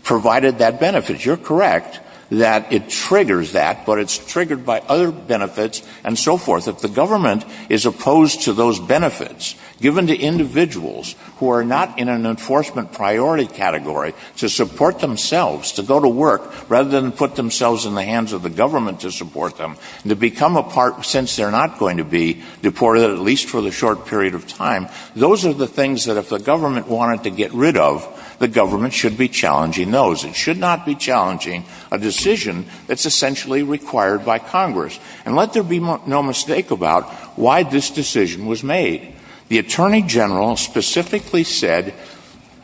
provided that benefit. You're correct that it triggers that, but it's triggered by other benefits and so forth. If the government is opposed to those benefits given to individuals who are not in an enforcement priority category to support themselves, to go to work rather than put themselves in the hands of the government to support them, to become a part since they're not going to be deported, at least for the short period of time, those are the things that if the government wanted to get rid of, the government should be challenging those. It should not be challenging a decision that's essentially required by Congress. And let there be no mistake about why this decision was made. The Attorney General specifically said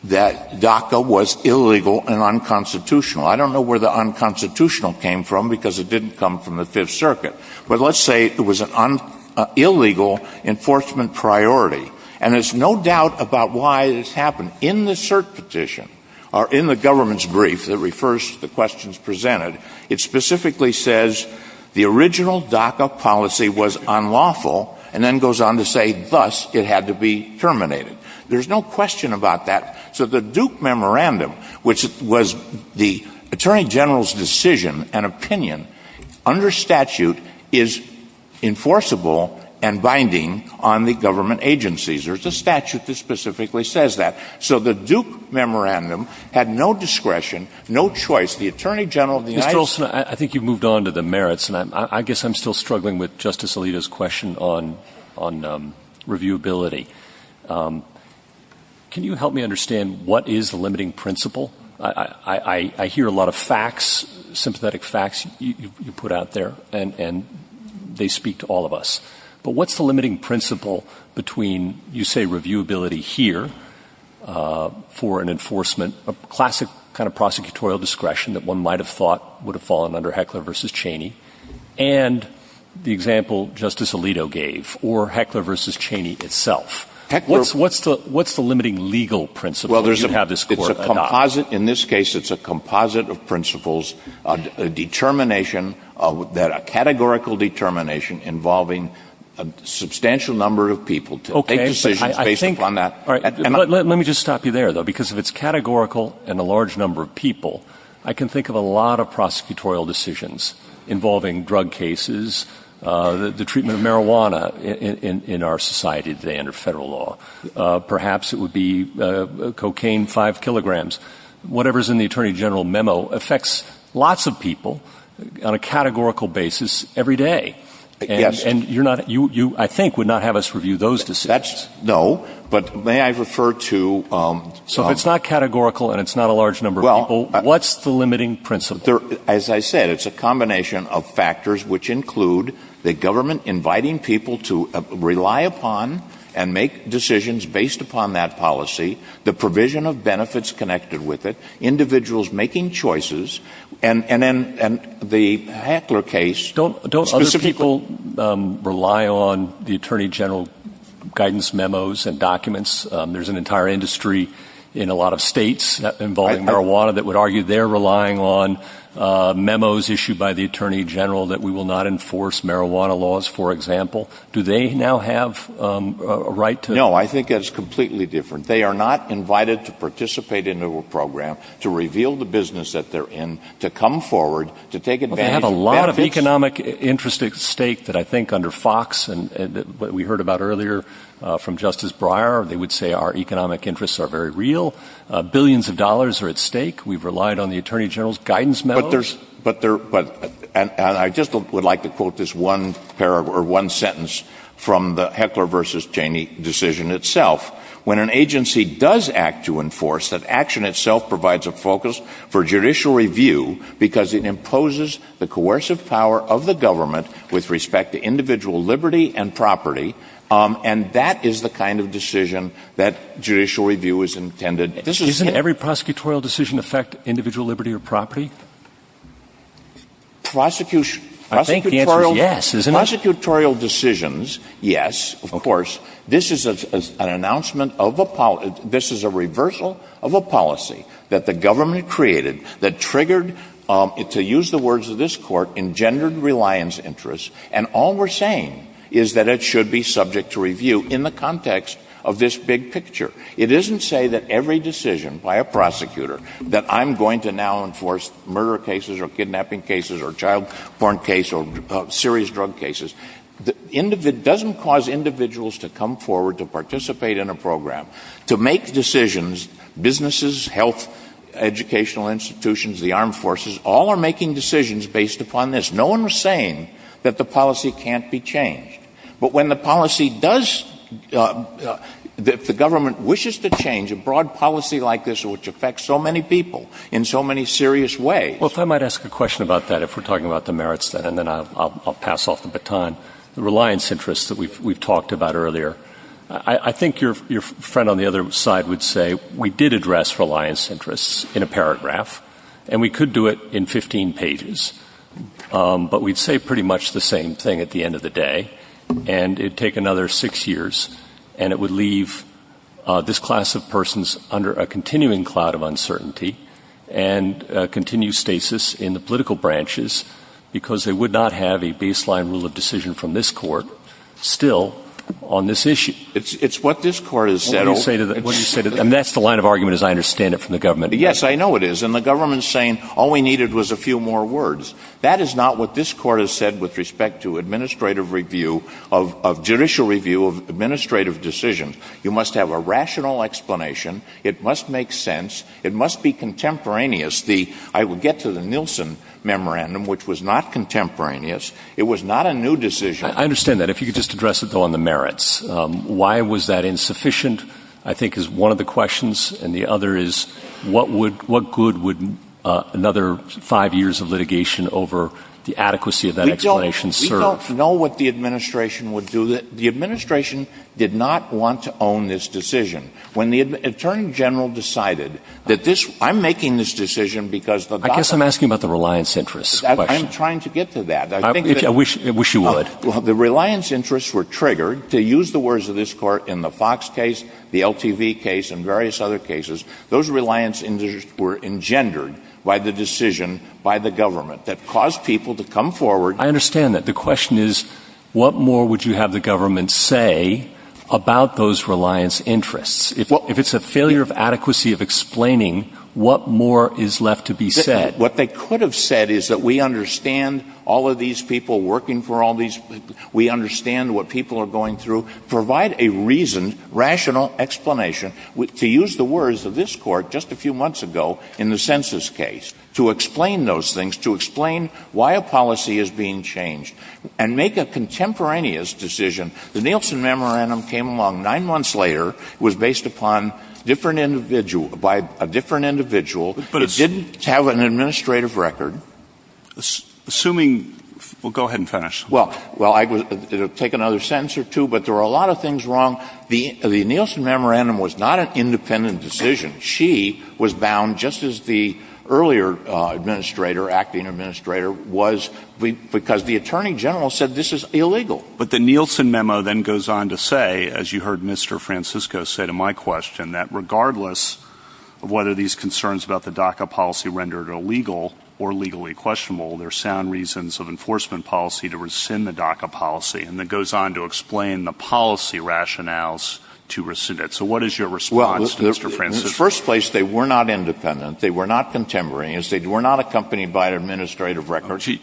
that DACA was illegal and unconstitutional. I don't know where the unconstitutional came from because it didn't come from the Fifth Circuit. But let's say it was an illegal enforcement priority. And there's no doubt about why this happened. In the cert petition or in the government's brief that refers to the questions presented, it specifically says the original DACA policy was unlawful and then goes on to say thus it had to be terminated. There's no question about that. So the Duke Memorandum, which was the Attorney General's decision and opinion, under statute is enforceable and binding on the government agencies. There's a statute that specifically says that. So the Duke Memorandum had no discretion, no choice. The Attorney General of the United States... Mr. Goldsmith, I think you've moved on to the merits. And I guess I'm still struggling with Justice Alito's question on reviewability. Can you help me understand what is the limiting principle? I hear a lot of facts, sympathetic facts you put out there, and they speak to reviewability here for an enforcement, a classic kind of prosecutorial discretion that one might have thought would have fallen under Heckler v. Cheney and the example Justice Alito gave or Heckler v. Cheney itself. What's the limiting legal principle? Well, in this case, it's a composite of principles, a categorical determination involving a substantial number of people to make decisions based upon that. Let me just stop you there, though, because if it's categorical and a large number of people, I can think of a lot of prosecutorial decisions involving drug cases, the treatment of marijuana in our society today under federal law. Perhaps it would be cocaine, five kilograms. Whatever's in the Attorney General memo affects lots of people on a categorical basis every day, and you, I think, would not have us review those decisions. No, but may I refer to... So if it's not categorical and it's not a large number of people, what's the limiting principle? As I said, it's a combination of factors, which include the government inviting people to rely upon and make decisions based upon that policy, the provision of benefits connected with it, individuals making choices, and then the Hackler case... Don't other people rely on the Attorney General's guidance memos and documents? There's an entire industry in a lot of states involving marijuana that would argue they're relying on memos issued by the Attorney General that we will not enforce marijuana laws, for example. Do they now have a right to... No, I think it's completely different. They are not invited to participate in a program to reveal the business that they're in, to come forward, to take advantage... They have a lot of economic interest at stake that I think under Fox and what we heard about earlier from Justice Breyer, they would say our economic interests are very real. Billions of dollars are at stake. We've relied on the Attorney General's guidance memos. I just would like to quote this one sentence from the Hackler v. Cheney decision itself. When an agency does act to enforce, that action itself provides a focus for judicial review because it imposes the coercive power of the government with respect to individual liberty and property, and that is the kind of decision that judicial review is intended to... Doesn't every prosecutorial decision affect individual liberty or property? Prosecutorial decisions, yes, of course. This is an announcement of a policy, this is a reversal of a policy that the government created that triggered, to use the words of this court, engendered reliance interests, and all we're saying is that it should be subject to review in the context of this big picture. It doesn't say that every decision by a prosecutor that I'm going to now enforce murder cases or kidnapping cases or child-born cases or serious drug cases, it doesn't cause individuals to come forward to participate in a program, to make decisions. Businesses, health, educational institutions, the armed forces, all are making decisions based upon this. No one was saying that the policy can't be changed, but when the policy does, the government wishes to change a broad policy like this which affects so many people in so many serious ways. Well, if I might ask a question about that, if we're talking about the merits of that, and then I'll pass off the baton, the reliance interests that we've talked about earlier. I think your friend on the other side would say, we did address reliance interests in a paragraph, and we could do it in 15 pages, but we'd say pretty much the same thing at the end of the day, and it'd take another six years, and it would leave this class of persons under a continuing cloud of uncertainty and a continued stasis in the political branches because they would not have a baseline rule of decision from this court still on this issue. It's what this court has said. What do you say to that? And that's the line of argument, as I understand it, from the government. Yes, I know it is. And the government's saying, all we needed was a few more words. That is not what this court has said with respect to administrative review of judicial review of administrative decisions. You must have a rational explanation. It must make sense. It must be contemporaneous. I would get to the Nielsen memorandum, which was not contemporaneous. It was not a new decision. I understand that. If you could just address it, though, on the merits. Why was that insufficient, I think is one of the questions, and the other is, what good would another five years of the adequacy of that explanation serve? We don't know what the administration would do. The administration did not want to own this decision. When the attorney general decided that this, I'm making this decision because the doctor... I guess I'm asking about the reliance interests. I'm trying to get to that. I wish you would. The reliance interests were triggered, to use the words of this court, in the Fox case, the LTV case, and various other cases. Those reliance interests were engendered by the decision, by the government, that caused people to come forward. I understand that. The question is, what more would you have the government say about those reliance interests? If it's a failure of adequacy of explaining, what more is left to be said? What they could have said is that we understand all of these people working for all these people. We understand what people are going through. Provide a reason, rational explanation, to use the words of this court, just a few months ago, in the census case, to explain those things, to explain why a policy is being changed, and make a contemporaneous decision. The Nielsen Memorandum came along nine months later. It was based upon a different individual. It didn't have an administrative record. Assuming... Well, go ahead and finish. Well, I could take another sentence or two, but there are a lot of things wrong. The Nielsen Memorandum was not an independent decision. She was bound, just as the earlier administrator, acting administrator, was, because the Attorney General said this is illegal. But the Nielsen Memo then goes on to say, as you heard Mr. Francisco say to my question, that regardless of whether these concerns about the DACA policy rendered illegal or legally questionable, there are sound reasons of enforcement policy to rescind the DACA policy, and then goes on to explain the policy rationales to rescind it. So what is your response, Mr. Francisco? Well, in the first place, they were not independent. They were not contemporaneous. They were not accompanied by an administrative record. She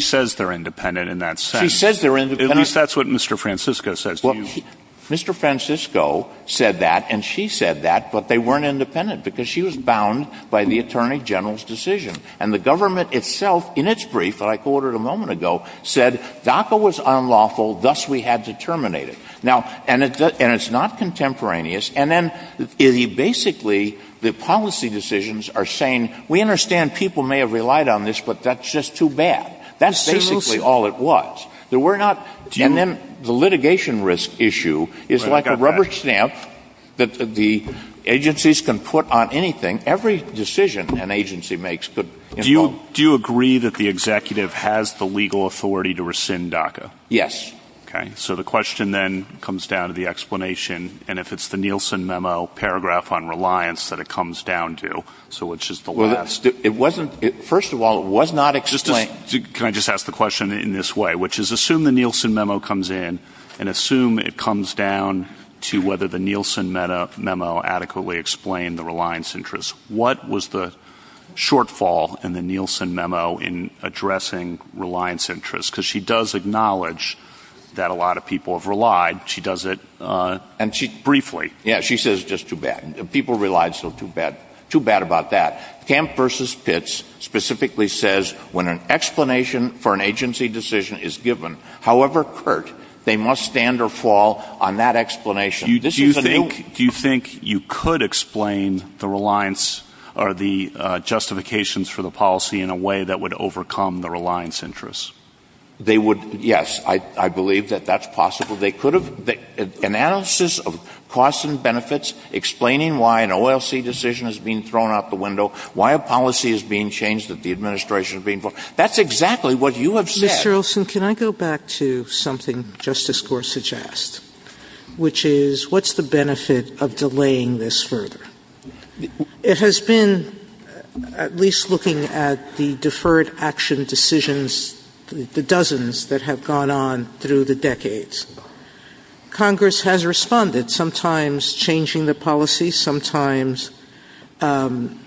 says they're independent in that sense. She said they're independent. At least that's what Mr. Francisco says to you. Mr. Francisco said that, and she said that, but they weren't independent, because she was bound by the Attorney General's decision. And the government itself, in its brief, that DACA was unlawful, thus we had to terminate it. Now, and it's not contemporaneous, and then, basically, the policy decisions are saying, we understand people may have relied on this, but that's just too bad. That's basically all it was. And then the litigation risk issue is like a rubber stamp that the agencies can put on anything, every decision an agency makes. Do you agree that the executive has the legal authority to rescind DACA? Yes. Okay. So the question, then, comes down to the explanation, and if it's the Nielsen memo paragraph on reliance that it comes down to, so which is the last... Well, it wasn't... First of all, it was not explained... Can I just ask the question in this way, which is, assume the Nielsen memo comes in, and assume it comes down to whether the Nielsen memo adequately explained the reliance interest. What was the shortfall in the Nielsen memo in addressing reliance interest? Because she does acknowledge that a lot of people have relied. She does it briefly. Yeah, she says it's just too bad. People relied, so too bad. Too bad about that. Kemp v. Pitts specifically says, when an explanation for an agency decision is given, however curt, they must stand or fall on that explanation. Do you think you could explain the justifications for the policy in a way that would overcome the reliance interest? They would, yes. I believe that that's possible. They could have... An analysis of costs and benefits explaining why an OLC decision is being thrown out the window, why a policy is being changed that the administration is being... That's exactly what you have said. Mr. Olson, can I go back to something Justice Gore suggests, which is, what's the benefit of delaying this further? It has been, at least looking at the deferred action decisions, the dozens that have gone on through the decades, Congress has responded, sometimes changing the policy, sometimes limiting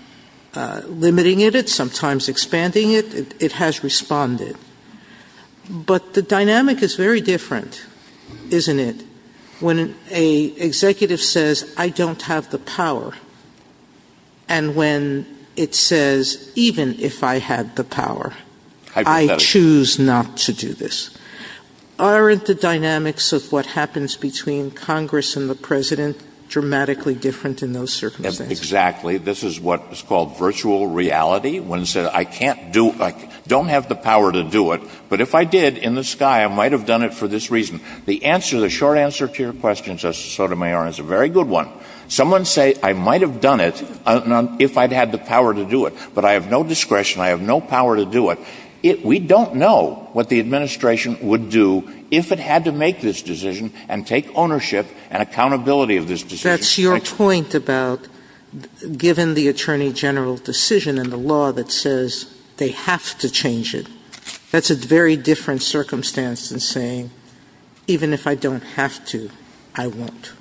it, sometimes expanding it. It has responded. But the dynamic is very different, isn't it? When an executive says, I don't have the power, and when it says, even if I had the power, I choose not to do this. Aren't the dynamics of what happens between Congress and the president dramatically different in those circumstances? Exactly. This is what is called virtual reality, when it says, I don't have the power to do it, but if I did, in the sky, I might have done it for this reason. The short answer to your question, Justice Sotomayor, is a very good one. Someone say, I might have done it if I'd had the power to do it, but I have no discretion, I have no power to do it. We don't know what the administration would do if it had to make this decision and take ownership and accountability of this decision. That's your point about, given the Attorney General's decision and the law that says they have to change it. That's a very different circumstance than saying, even if I don't have to, I won't.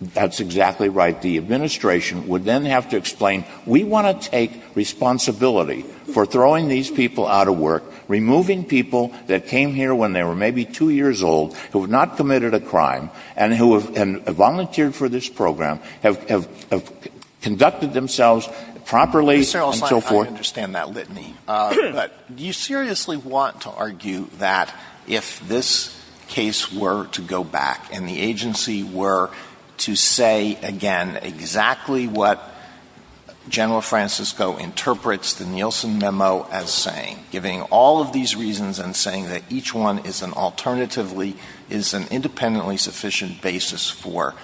That's exactly right. The administration would then have to explain, we want to take responsibility for throwing these people out of work, removing people that came here when they were maybe two years old, who have not committed a crime, and who have volunteered for this program, have conducted themselves properly, and so forth. Mr. Alsop, I understand that litany, but do you seriously want to argue that if this case were to go back, and the agency were to say, again, exactly what General Francisco interprets the Nielsen Memo as saying, giving all of these reasons and saying that each one is an alternatively, is an independently sufficient basis for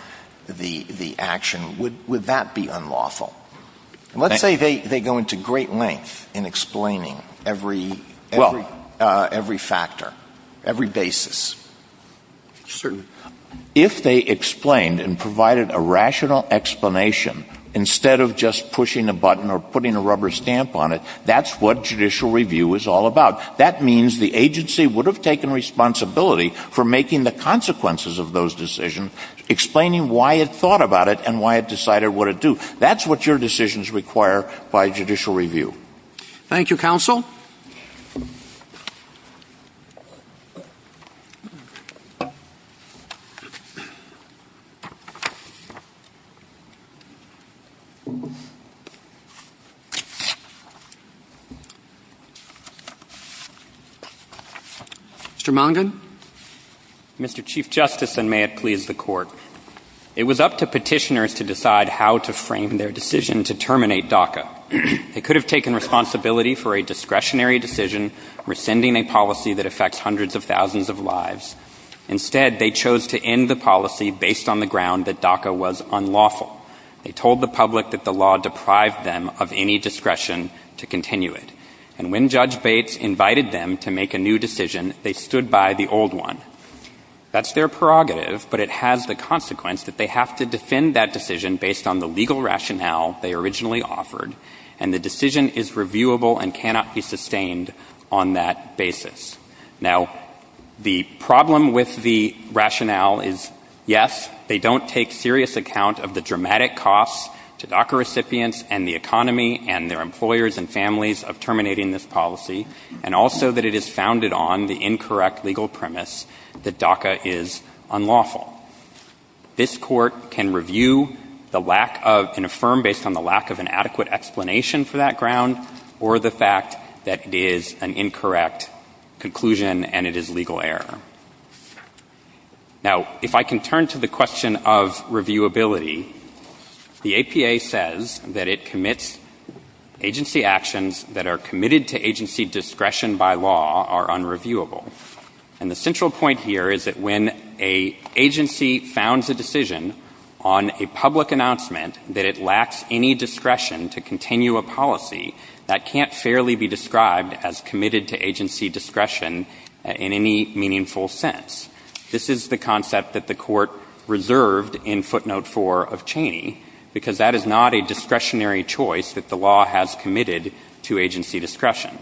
the action, would that be unlawful? Let's say they go into great length in explaining every factor, every basis. If they explained and provided a rational explanation, instead of just pushing a button or putting a rubber stamp on it, that's what judicial review is all about. That means the agency would have taken responsibility for making the consequences of those decisions, explaining why it thought about it and why it decided what to do. That's what your decisions require by judicial review. Thank you. Thank you, counsel. Mr. Mondin. Mr. Chief Justice, and may it please the Court. It was up to petitioners to decide how to frame their decision to terminate DACA. It could have taken responsibility for a discretionary decision, rescinding a policy that affects hundreds of thousands of lives. Instead, they chose to end the policy based on the ground that DACA was unlawful. They told the public that the law deprived them of any discretion to continue it. And when Judge Bates invited them to make a new decision, they stood by the old one. That's their prerogative, but it has the consequence that they have to defend that decision based on the legal rationale they originally offered, and the decision is reviewable and cannot be sustained on that basis. Now, the problem with the rationale is, yes, they don't take serious account of the dramatic costs to DACA recipients and the economy and their employers and families of terminating this policy, and also that it is founded on the incorrect legal premise that DACA is unlawful. This Court can review the lack of, can affirm based on the lack of an adequate explanation for that ground or the fact that it is an incorrect conclusion and it is legal error. Now, if I can turn to the question of reviewability, the APA says that it commits agency actions that are unreviewable. And the central point here is that when an agency founds a decision on a public announcement that it lacks any discretion to continue a policy, that can't fairly be described as committed to agency discretion in any meaningful sense. This is the concept that the Court reserved in footnote 4 of Cheney, because that is not a discretionary choice that the law has committed to agency discretion.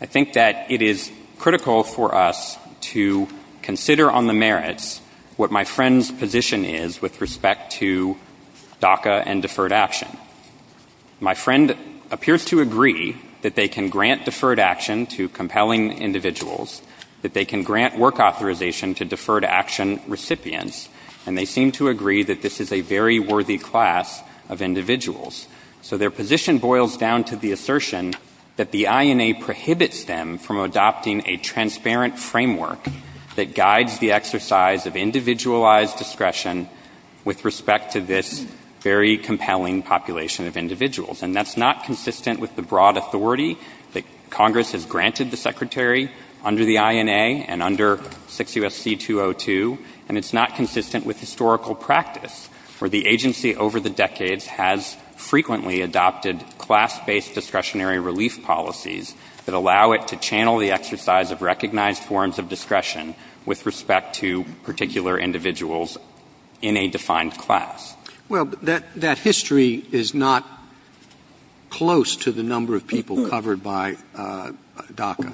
I think that it is critical for us to consider on the merits what my friend's position is with respect to DACA and deferred action. My friend appears to agree that they can grant deferred action to compelling individuals, that they can grant work authorization to deferred action recipients, and they seem to agree that this is a very worthy class of individuals. So their position boils down to the assertion that the INA prohibits them from adopting a transparent framework that guides the exercise of individualized discretion with respect to this very compelling population of individuals. And that's not consistent with the broad authority that Congress has granted the Secretary under the INA and under 6 U.S.C. 202, and it's not consistent with historical practice, where the agency over the decades has frequently adopted class-based discretionary relief policies that allow it to channel the exercise of recognized forms of discretion with respect to particular individuals in a defined class. Well, that history is not close to the number of people covered by DACA.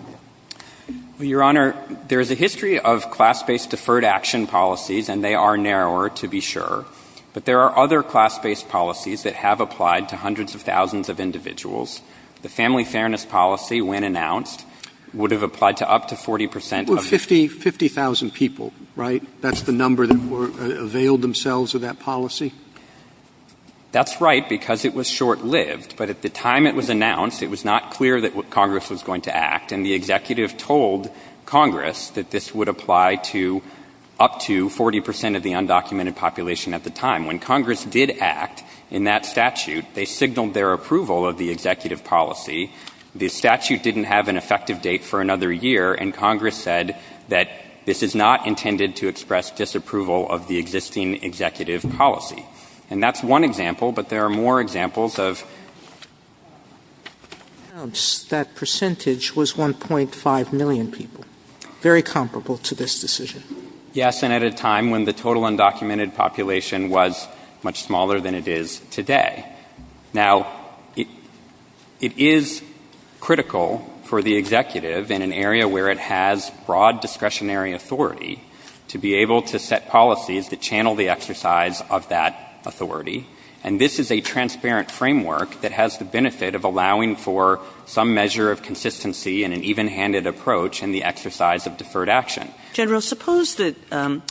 Your Honor, there is a history of class-based deferred action policies, and they are narrower, to be sure. But there are other class-based policies that have applied to hundreds of thousands of individuals. The Family Fairness Policy, when announced, would have applied to up to 40 percent of the 50,000 people, right? That's the number that were availed themselves of that policy? That's right, because it was short-lived. But at the time it was announced, it was not clear that Congress was going to act, and the Executive told Congress that this would apply to up to 40 percent of the undocumented population at the time. When Congress did act in that statute, they signaled their approval of the Executive policy. The statute didn't have an effective date for another year, and Congress said that this is not intended to express disapproval of the existing Executive policy. And that's one example, but there are more examples of... ...that percentage was 1.5 million people, very comparable to this decision. Yes, and at a time when the total undocumented population was much smaller than it is today. Now, it is critical for the Executive in an area where it has broad discretionary authority to be able to set policies that channel the exercise of that authority. And this is a benefit of allowing for some measure of consistency and an even-handed approach in the exercise of deferred action. General, suppose that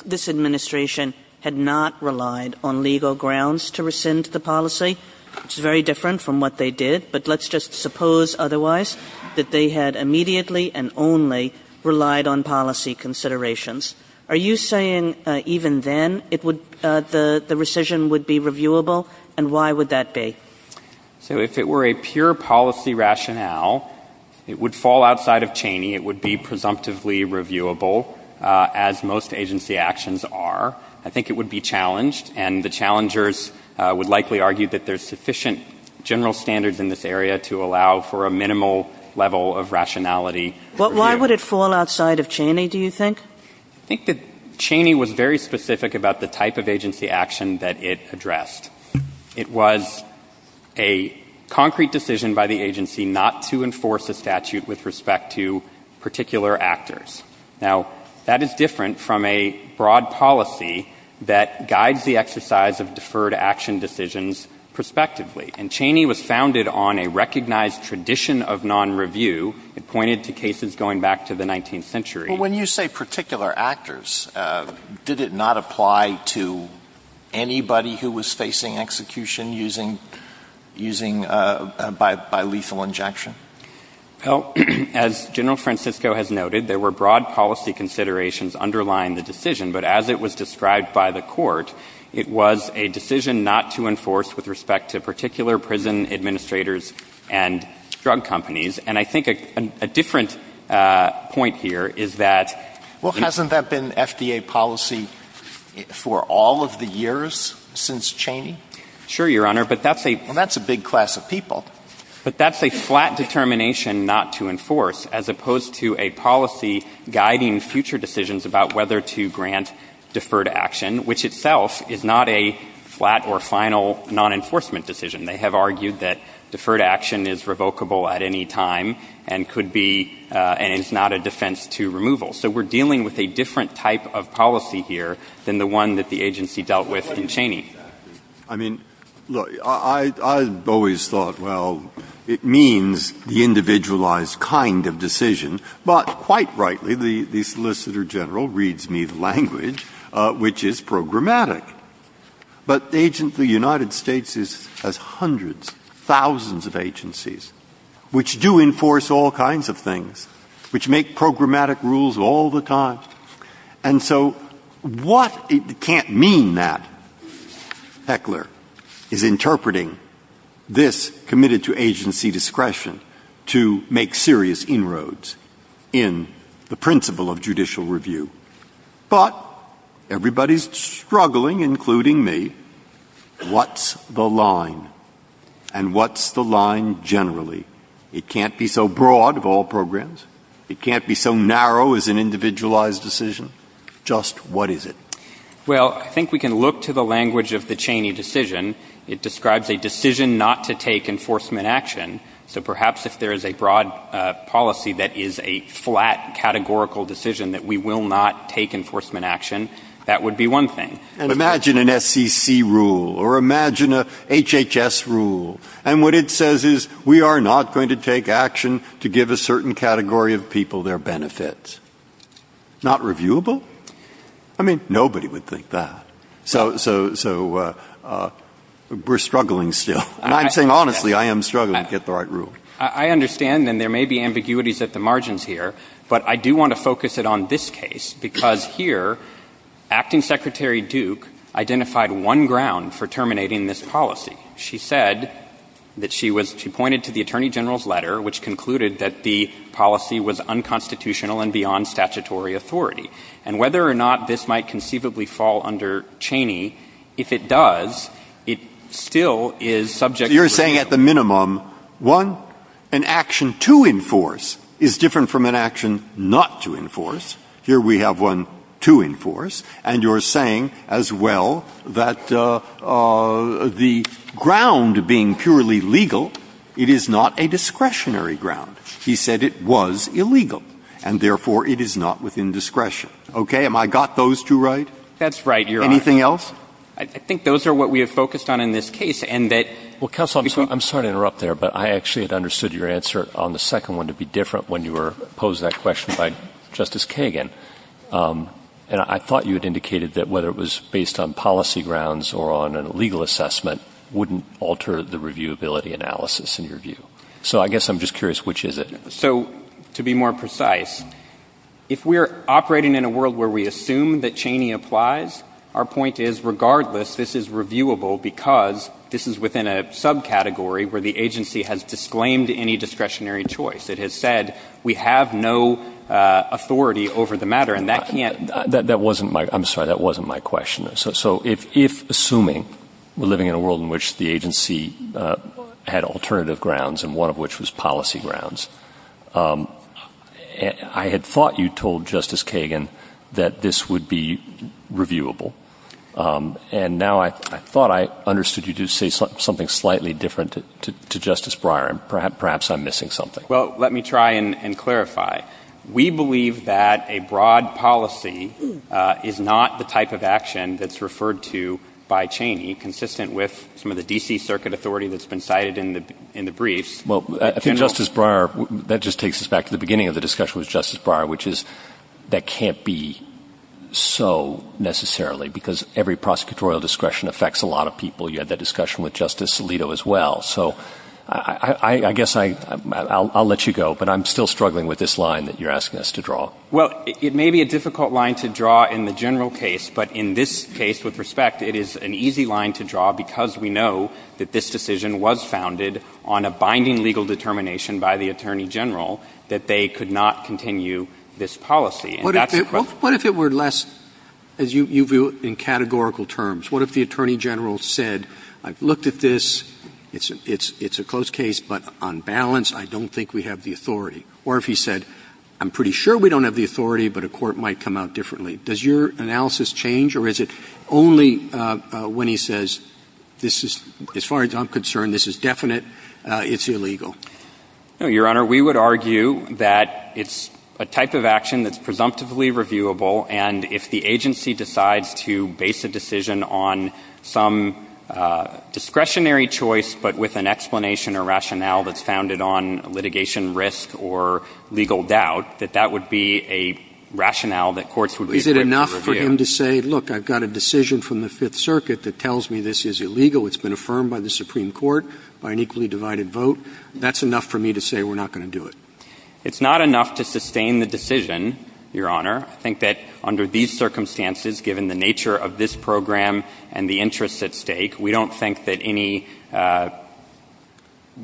this administration had not relied on legal grounds to rescind the policy. It's very different from what they did, but let's just suppose otherwise that they had immediately and only relied on policy considerations. Are you saying even then the rescission would be reviewable, and why would that be? So if it were a pure policy rationale, it would fall outside of Cheney. It would be presumptively reviewable, as most agency actions are. I think it would be challenged, and the challengers would likely argue that there's sufficient general standards in this area to allow for a minimal level of rationality. Why would it fall outside of Cheney, do you think? I think that Cheney was very specific about the type of agency action that it addressed. It was a concrete decision by the agency not to enforce a statute with respect to particular actors. Now, that is different from a broad policy that guides the exercise of deferred action decisions prospectively. And Cheney was founded on a recognized tradition of non-review. It pointed to cases going back to the 19th century. When you say particular actors, did it not apply to anybody who was facing execution by lethal injection? As General Francisco has noted, there were broad policy considerations underlying the decision, but as it was described by the court, it was a decision not to enforce with respect to particular prison administrators and drug companies. And I think a different point here is that... Well, hasn't that been FDA policy for all of the years since Cheney? Sure, Your Honor, but that's a... Well, that's a big class of people. But that's a flat determination not to enforce, as opposed to a policy guiding future decisions about whether to grant deferred action, which itself is not a flat or final non-enforcement decision. They have argued that deferred action is revocable at any time and it's not a defense to removal. So we're dealing with a different type of policy here than the one that the agency dealt with in Cheney. I mean, look, I've always thought, well, it means the individualized kind of decision. But quite rightly, the Solicitor General reads me language, which is programmatic. But the United States has hundreds, thousands of agencies, which do enforce all kinds of things, which make programmatic rules all the time. And so what can't mean that Heckler is interpreting this committed to agency discretion to make serious inroads in the principle of including me, what's the line? And what's the line generally? It can't be so broad of all programs. It can't be so narrow as an individualized decision. Just what is it? Well, I think we can look to the language of the Cheney decision. It describes a decision not to take enforcement action. So perhaps if there is a broad policy that is a flat categorical decision that we will not take enforcement action, that would be one thing. Imagine an SEC rule or imagine a HHS rule. And what it says is we are not going to take action to give a certain category of people their benefits. Not reviewable. I mean, nobody would think that. So we're struggling still. And I'm saying honestly, I am struggling to get the right rule. I understand that there may be ambiguities at the margins here, but I do want to focus it on this case, because here Acting Secretary Duke identified one ground for terminating this policy. She said that she pointed to the Attorney General's letter, which concluded that the policy was unconstitutional and beyond statutory authority. And whether or not this might conceivably fall under Cheney, if it does, it still is subject to review. Here we have one to enforce. And you're saying as well that the ground being purely legal, it is not a discretionary ground. He said it was illegal. And therefore, it is not within discretion. Okay? Have I got those two right? That's right, Your Honor. Anything else? I think those are what we have focused on in this case. Well, counsel, I'm sorry to interrupt there, but I actually had understood your answer on the second one to be different when you were posing that question by Justice Kagan. And I thought you had indicated that whether it was based on policy grounds or on a legal assessment wouldn't alter the reviewability analysis in your view. So I guess I'm just curious, which is it? So to be more precise, if we're operating in a world where we assume that Cheney applies, our point is, regardless, this is reviewable because this is within a subcategory where the agency has disclaimed any discretionary choice. It has said we have no authority over the matter. And that can yet — That wasn't my — I'm sorry. That wasn't my question. So if, assuming we're living in a world in which the agency had alternative grounds, and one of which was policy grounds, I had thought you told Justice Kagan that this would be reviewable. And now I thought I understood you to say something slightly different to Justice Breyer. And perhaps I'm missing something. Well, let me try and clarify. We believe that a broad policy is not the type of action that's referred to by Cheney, consistent with some of the D.C. Circuit authority that's been cited in the briefs. Well, I think Justice Breyer — that just takes us back to the beginning of the discussion with Justice Breyer, which is that can't be so necessarily, because every prosecutorial discretion affects a lot of people. You had that discussion with Justice Alito as well. So I guess I'll let you go. But I'm still struggling with this line that you're asking us to draw. Well, it may be a difficult line to draw in the general case. But in this case, with respect, it is an easy line to draw because we know that this decision was founded on a binding legal determination by the Attorney General that they could not continue this policy. What if it were less, as you view it in categorical terms? What if the Attorney General said, I've looked at this, it's a close case, but on balance, I don't think we have the authority? Or if he said, I'm pretty sure we don't have the authority, but a court might come out differently. Does your analysis change, or is it only when he says, as far as I'm concerned, this is definite, it's illegal? No, Your Honor. We would argue that it's a type of action that's presumptively reviewable. And if the agency decides to base a decision on some discretionary choice, but with an explanation or rationale that's founded on litigation risk or legal doubt, that that would be a rationale that courts would be able to review. Is it enough for him to say, look, I've got a decision from the Fifth Circuit that tells me this is illegal. It's been affirmed by the Supreme Court by an equally divided vote. That's enough for me to say we're not going to do it? It's not enough to sustain the decision, Your Honor. I think that under these circumstances, given the nature of this program and the interests at stake, we don't think that any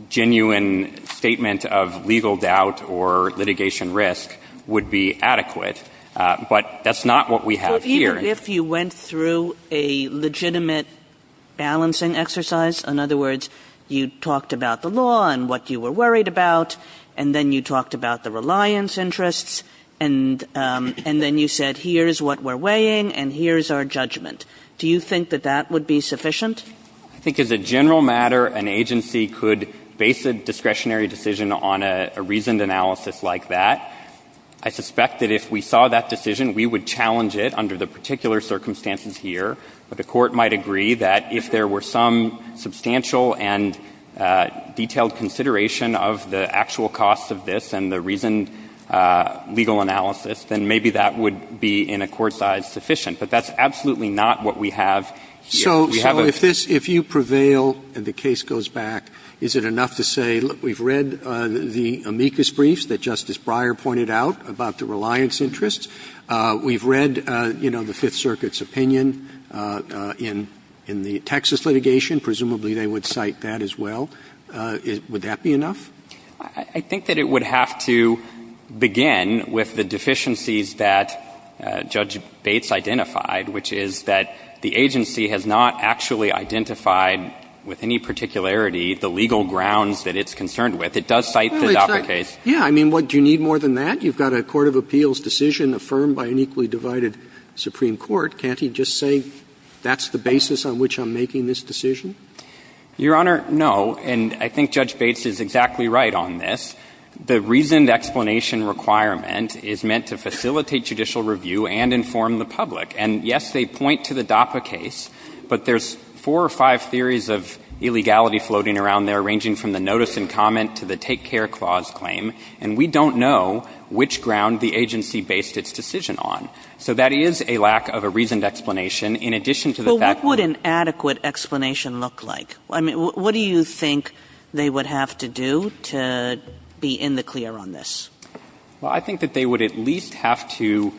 genuine statement of legal doubt or litigation risk would be adequate. But that's not what we have here. But even if you went through a legitimate balancing exercise, in other words, you talked about the law and what you were worried about, and then you talked about the reliance interests, and then you said, here's what we're weighing, and here's our judgment, do you think that that would be sufficient? I think as a general matter, an agency could base a discretionary decision on a reasoned analysis like that. I suspect that if we saw that decision, we would challenge it under the particular circumstances here. But the court might agree that if there were some substantial and detailed consideration of the actual cost of this and the reasoned legal analysis, then maybe that would be in a court size sufficient. But that's absolutely not what we have. So if you prevail and the case goes back, is it enough to say, look, we've read the amicus briefs that Justice Breyer pointed out about the reliance interests? We've read the Fifth Circuit's opinion in the Texas litigation. Presumably they would cite that as well. Would that be enough? I think that it would have to begin with the deficiencies that Judge Bates identified, which is that the agency has not actually identified with any particularity the legal grounds that it's concerned with. It does cite the adopted case. Yeah. I mean, what, do you need more than that? You've got a court of appeals decision affirmed by an equally divided Supreme Court. Can't he just say that's the basis on which I'm making this decision? Your Honor, no. And I think Judge Bates is exactly right on this. The reasoned explanation requirement is meant to facilitate judicial review and inform the public. And, yes, they point to the DAPA case, but there's four or five theories of illegality floating around there, ranging from the notice and comment to the take-care clause claim. And we don't know which ground the agency based its decision on. So that is a lack of a reasoned explanation, in addition to the fact that Well, what would an adequate explanation look like? I mean, what do you think they would have to do to be in the clear on this? Well, I think that they would at least have to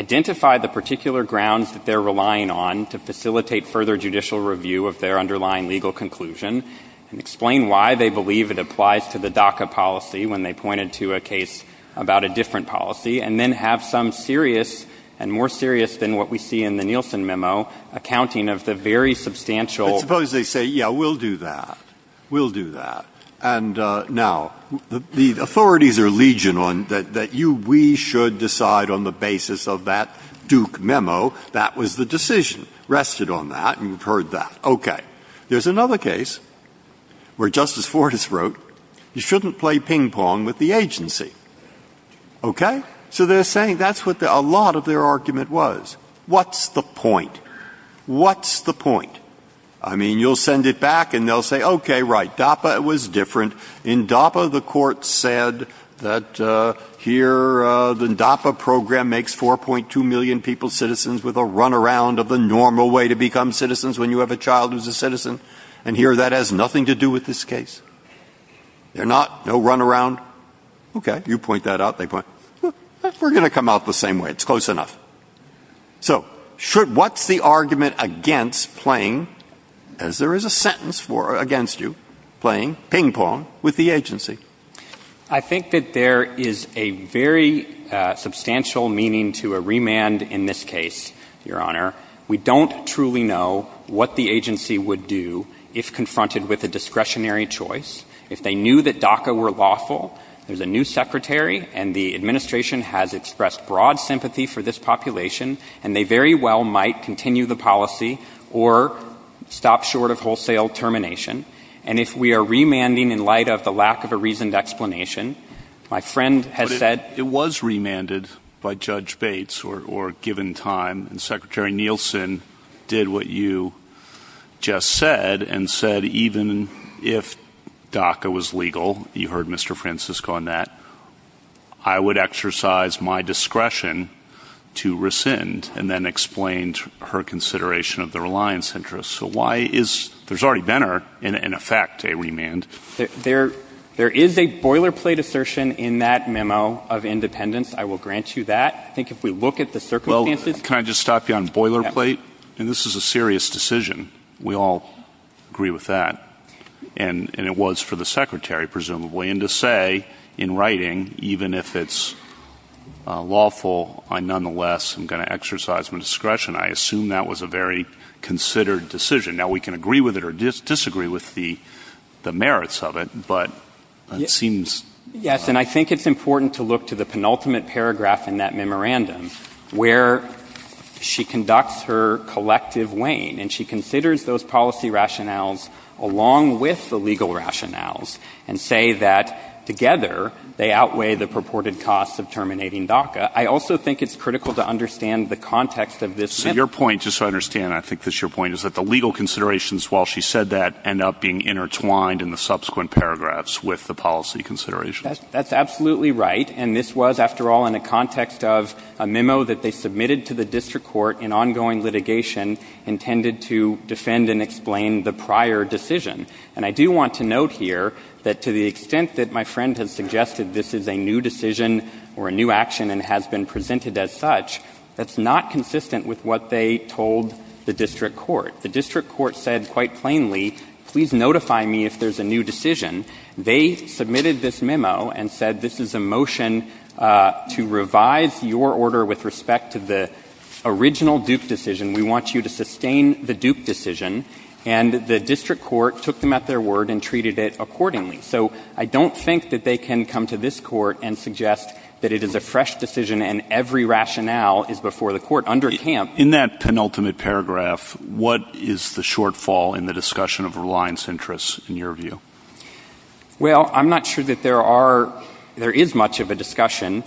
identify the particular grounds that they're relying on to facilitate further judicial review of their underlying legal conclusion and explain why they believe it applies to the DACA policy when they point it to a case about a different policy, and then have some serious, and more serious than what we see in the Nielsen memo, accounting of the very substantial I suppose they say, yeah, we'll do that. We'll do that. And now, the authorities are legion on that you, we should decide on the basis of that Duke memo, that was the decision. rested on that, and you've heard that. Okay. There's another case where Justice Fortas wrote, you shouldn't play ping pong with the agency. Okay, so they're saying that's what a lot of their argument was. What's the point? What's the point? I mean, you'll send it back and they'll say, okay, right, DAPA was different. In DAPA, the court said that here, the DAPA program makes 4.2 million people citizens with a runaround of the normal way to become citizens when you have a child who's a citizen. And here, that has nothing to do with this case. They're not, no runaround. Okay, you point that out. They point, we're going to come out the same way. It's close enough. So, should, what's the argument against playing, as there is a sentence for against you, playing ping pong with the agency? I think that there is a very substantial meaning to a remand in this case, Your Honor. We don't truly know what the agency would do if confronted with a discretionary choice. If they knew that DACA were lawful, there's a new secretary and the administration has expressed broad sympathy for this population, and they very well might continue the reasoned explanation. My friend has said... It was remanded by Judge Bates or given time, and Secretary Nielsen did what you just said and said, even if DACA was legal, you heard Mr. Francisco on that, I would exercise my discretion to rescind, and then explained her consideration of the reliance interest. So, why is, there's already been an effect, a remand. There is a boilerplate assertion in that memo of independence. I will grant you that. I think if we look at the circumstances... Well, can I just stop you on boilerplate? And this is a serious decision. We all agree with that. And it was for the secretary, presumably. And to say, in writing, even if it's lawful, I nonetheless am going to exercise my discretion. I assume that was a very considered decision. Now, we can agree with it or disagree with the merits of it, but it seems... Yes, and I think it's important to look to the penultimate paragraph in that memorandum, where she conducts her collective weighing, and she considers those policy rationales along with the legal rationales, and say that, together, they outweigh the purported cost of terminating DACA. I also think it's critical to understand the context of this... So your point, just so I understand, I think this is your point, is that the legal considerations, while she said that, end up being intertwined in the subsequent paragraphs with the policy considerations. That's absolutely right. And this was, after all, in the context of a memo that they submitted to the district court in ongoing litigation, intended to defend and explain the prior decision. And I do want to note here that, to the extent that my friend has suggested this is a new decision or a new action and has been presented as such, that's not consistent with what they told the district court. The district court said, quite plainly, please notify me if there's a new decision. They submitted this memo and said, this is a motion to revise your order with respect to the original Duke decision. We want you to sustain the Duke decision. And the district court took them at their word and treated it accordingly. So I don't think that they can come to this court and suggest that it is a fresh decision and every rationale is before the court under camp. In that penultimate paragraph, what is the shortfall in the discussion of reliance interests in your view? Well, I'm not sure that there are — there is much of a discussion.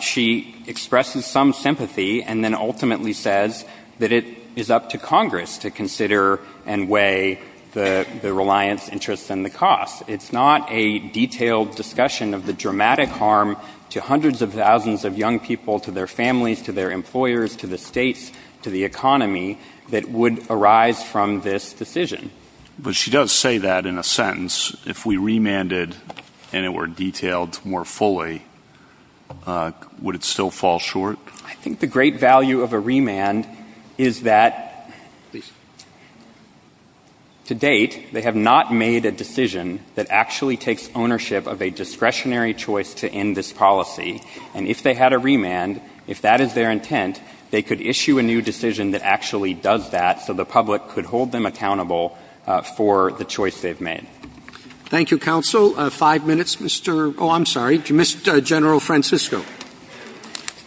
She expresses some sympathy and then ultimately says that it is up to Congress to consider and weigh the reliance interests and the cost. It's not a detailed discussion of the dramatic harm to hundreds of thousands of young people, to their families, to their employers, to the states, to the economy that would arise from this decision. But she does say that in a sentence. If we remanded and it were detailed more fully, would it still fall short? I think the great value of a remand is that, to date, they have not made a decision that actually takes ownership of a discretionary choice to end this policy. And if they had a remand, if that is their intent, they could issue a new decision that actually does that so the public could hold them accountable for the choice they've made. Thank you, counsel. Five minutes, Mr. — oh, I'm sorry, Mr. General Francisco.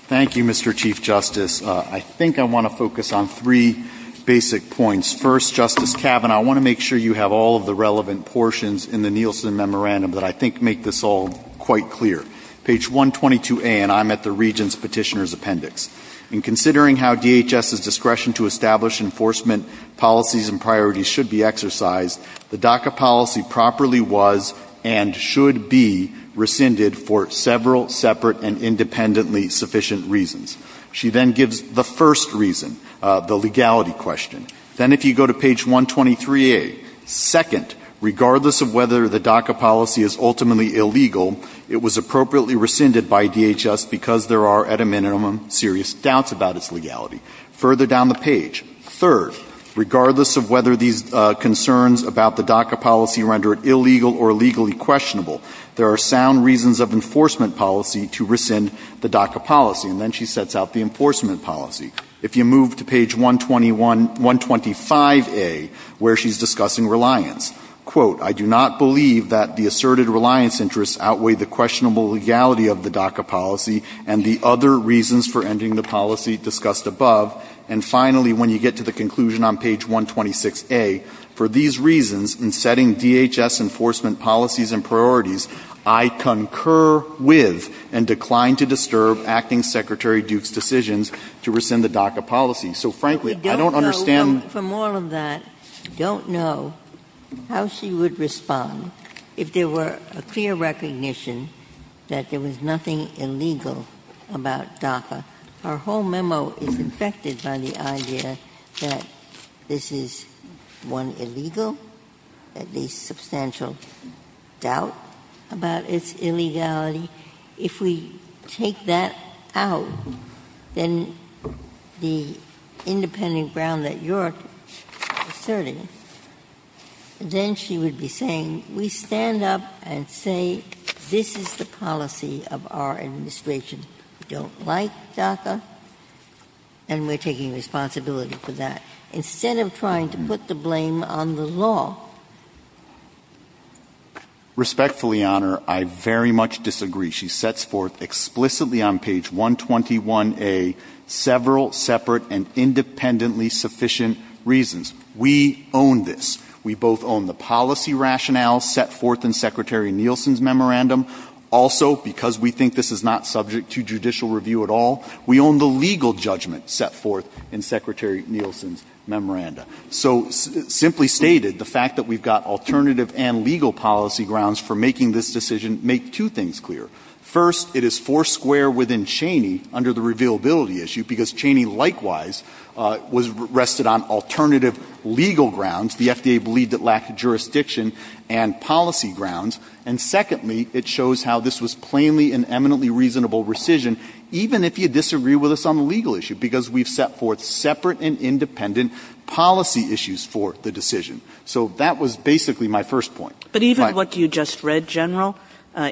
Thank you, Mr. Chief Justice. I think I want to focus on three basic points. First, Justice Kavanaugh, I want to make sure you have all of the relevant portions in the Nielsen Memorandum that I think make this all quite clear. Page 122A, and I'm at the Regent's Petitioner's Appendix. In considering how DHS's discretion to establish enforcement policies and priorities should be exercised, the DACA policy properly was and should be rescinded for several separate and independently sufficient reasons. She then gives the first reason, the legality question. Then if you go to page 123A, second, regardless of whether the DACA policy is ultimately illegal, it was appropriately rescinded by DHS because there are, at a minimum, serious doubts about its legality. Further down the page, third, regardless of whether these concerns about the DACA policy can render it illegal or legally questionable, there are sound reasons of enforcement policy to rescind the DACA policy. And then she sets out the enforcement policy. If you move to page 125A, where she's discussing reliance, quote, I do not believe that the asserted reliance interests outweigh the questionable legality of the DACA policy and the other reasons for ending the policy discussed above. And finally, when you get to the conclusion on page 126A, for these reasons, in setting DHS enforcement policies and priorities, I concur with and decline to disturb Acting Secretary Duke's decisions to rescind the DACA policy. So frankly, I don't understand... We don't know, from all of that, don't know how she would respond if there were a clear recognition that there was nothing illegal about DACA. Our whole memo is infected by the idea that this is, one, illegal, at least substantial doubt about its illegality. If we take that out, then the independent ground that you're asserting, then she would be saying we stand up and say this is the policy of our administration. We don't like DACA, and we're taking responsibility for that, instead of trying to put the blame on the law. Respectfully, Honor, I very much disagree. She sets forth explicitly on page 121A several separate and independently sufficient reasons. We own this. We both own the policy rationale set forth in Secretary Nielsen's memorandum. Also, because we think this is not subject to judicial review at all, we own the legal judgment set forth in Secretary Nielsen's memorandum. So simply stated, the fact that we've got alternative and legal policy grounds for making this decision make two things clear. First, it is four square within Cheney under the revealability issue because Cheney likewise rested on alternative legal grounds. The FDA believed it lacked jurisdiction and policy grounds. And secondly, it shows how this was plainly and eminently reasonable rescission, even if you disagree with us on the legal issue, because we've set forth separate and independent policy issues for the decision. So that was basically my first point. But even what you just read, General,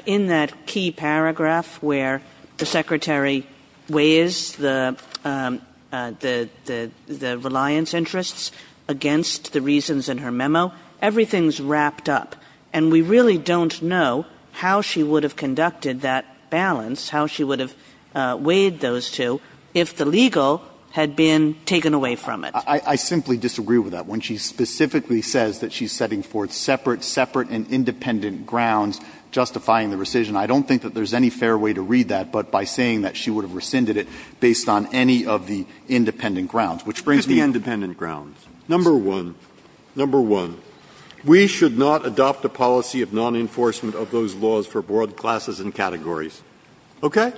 in that key paragraph where the Secretary weighs the reliance interests against the reasons in her memo, everything's wrapped up. And we really don't know how she would have conducted that balance, how she would have weighed those two, if the legal had been taken away from it. I simply disagree with that. When she specifically says that she's setting forth separate and independent grounds justifying the rescission, I don't think that there's any fair way to read that, but by saying that she would have rescinded it based on any of the independent grounds, which brings me to the independent grounds. Number one, number one, we should not adopt a policy of non-enforcement of those laws for broad classes and categories. Okay?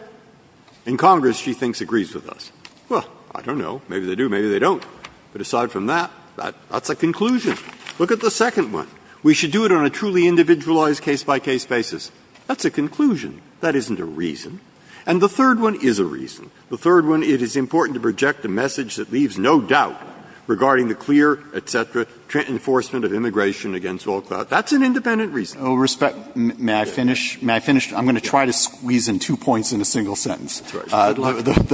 In Congress, she thinks, agrees with us. Well, I don't know. Maybe they do. Maybe they don't. But aside from that, that's a conclusion. Look at the second one. We should do it on a truly individualized, case-by-case basis. That's a conclusion. That isn't a reason. And the third one is a reason. The third one is it's important to project a message that leaves no doubt regarding the clear, et cetera, enforcement of immigration against all thought. That's an independent reason. May I finish? May I finish? I'm going to try to squeeze in two points in a single sentence. The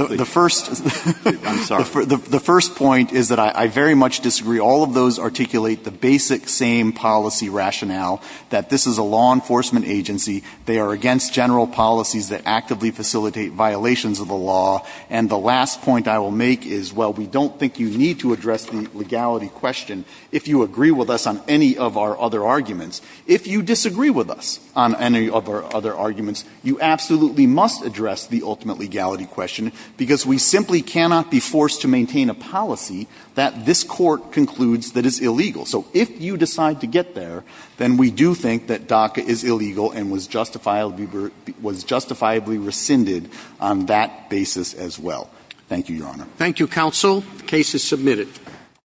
first point is that I very much disagree. All of those articulate the basic same policy rationale, that this is a law enforcement agency. They are against general policies that actively facilitate violations of the law. And the last point I will make is, well, we don't think you need to address the legality question if you agree with us on any of our other arguments. If you disagree with us on any of our other arguments, you absolutely must address the ultimate legality question because we simply cannot be forced to maintain a policy that this court concludes that it's illegal. So if you decide to get there, then we do think that DACA is illegal and was justifiably rescinded on that basis as well. Thank you, Your Honor. Thank you, counsel. The case is submitted.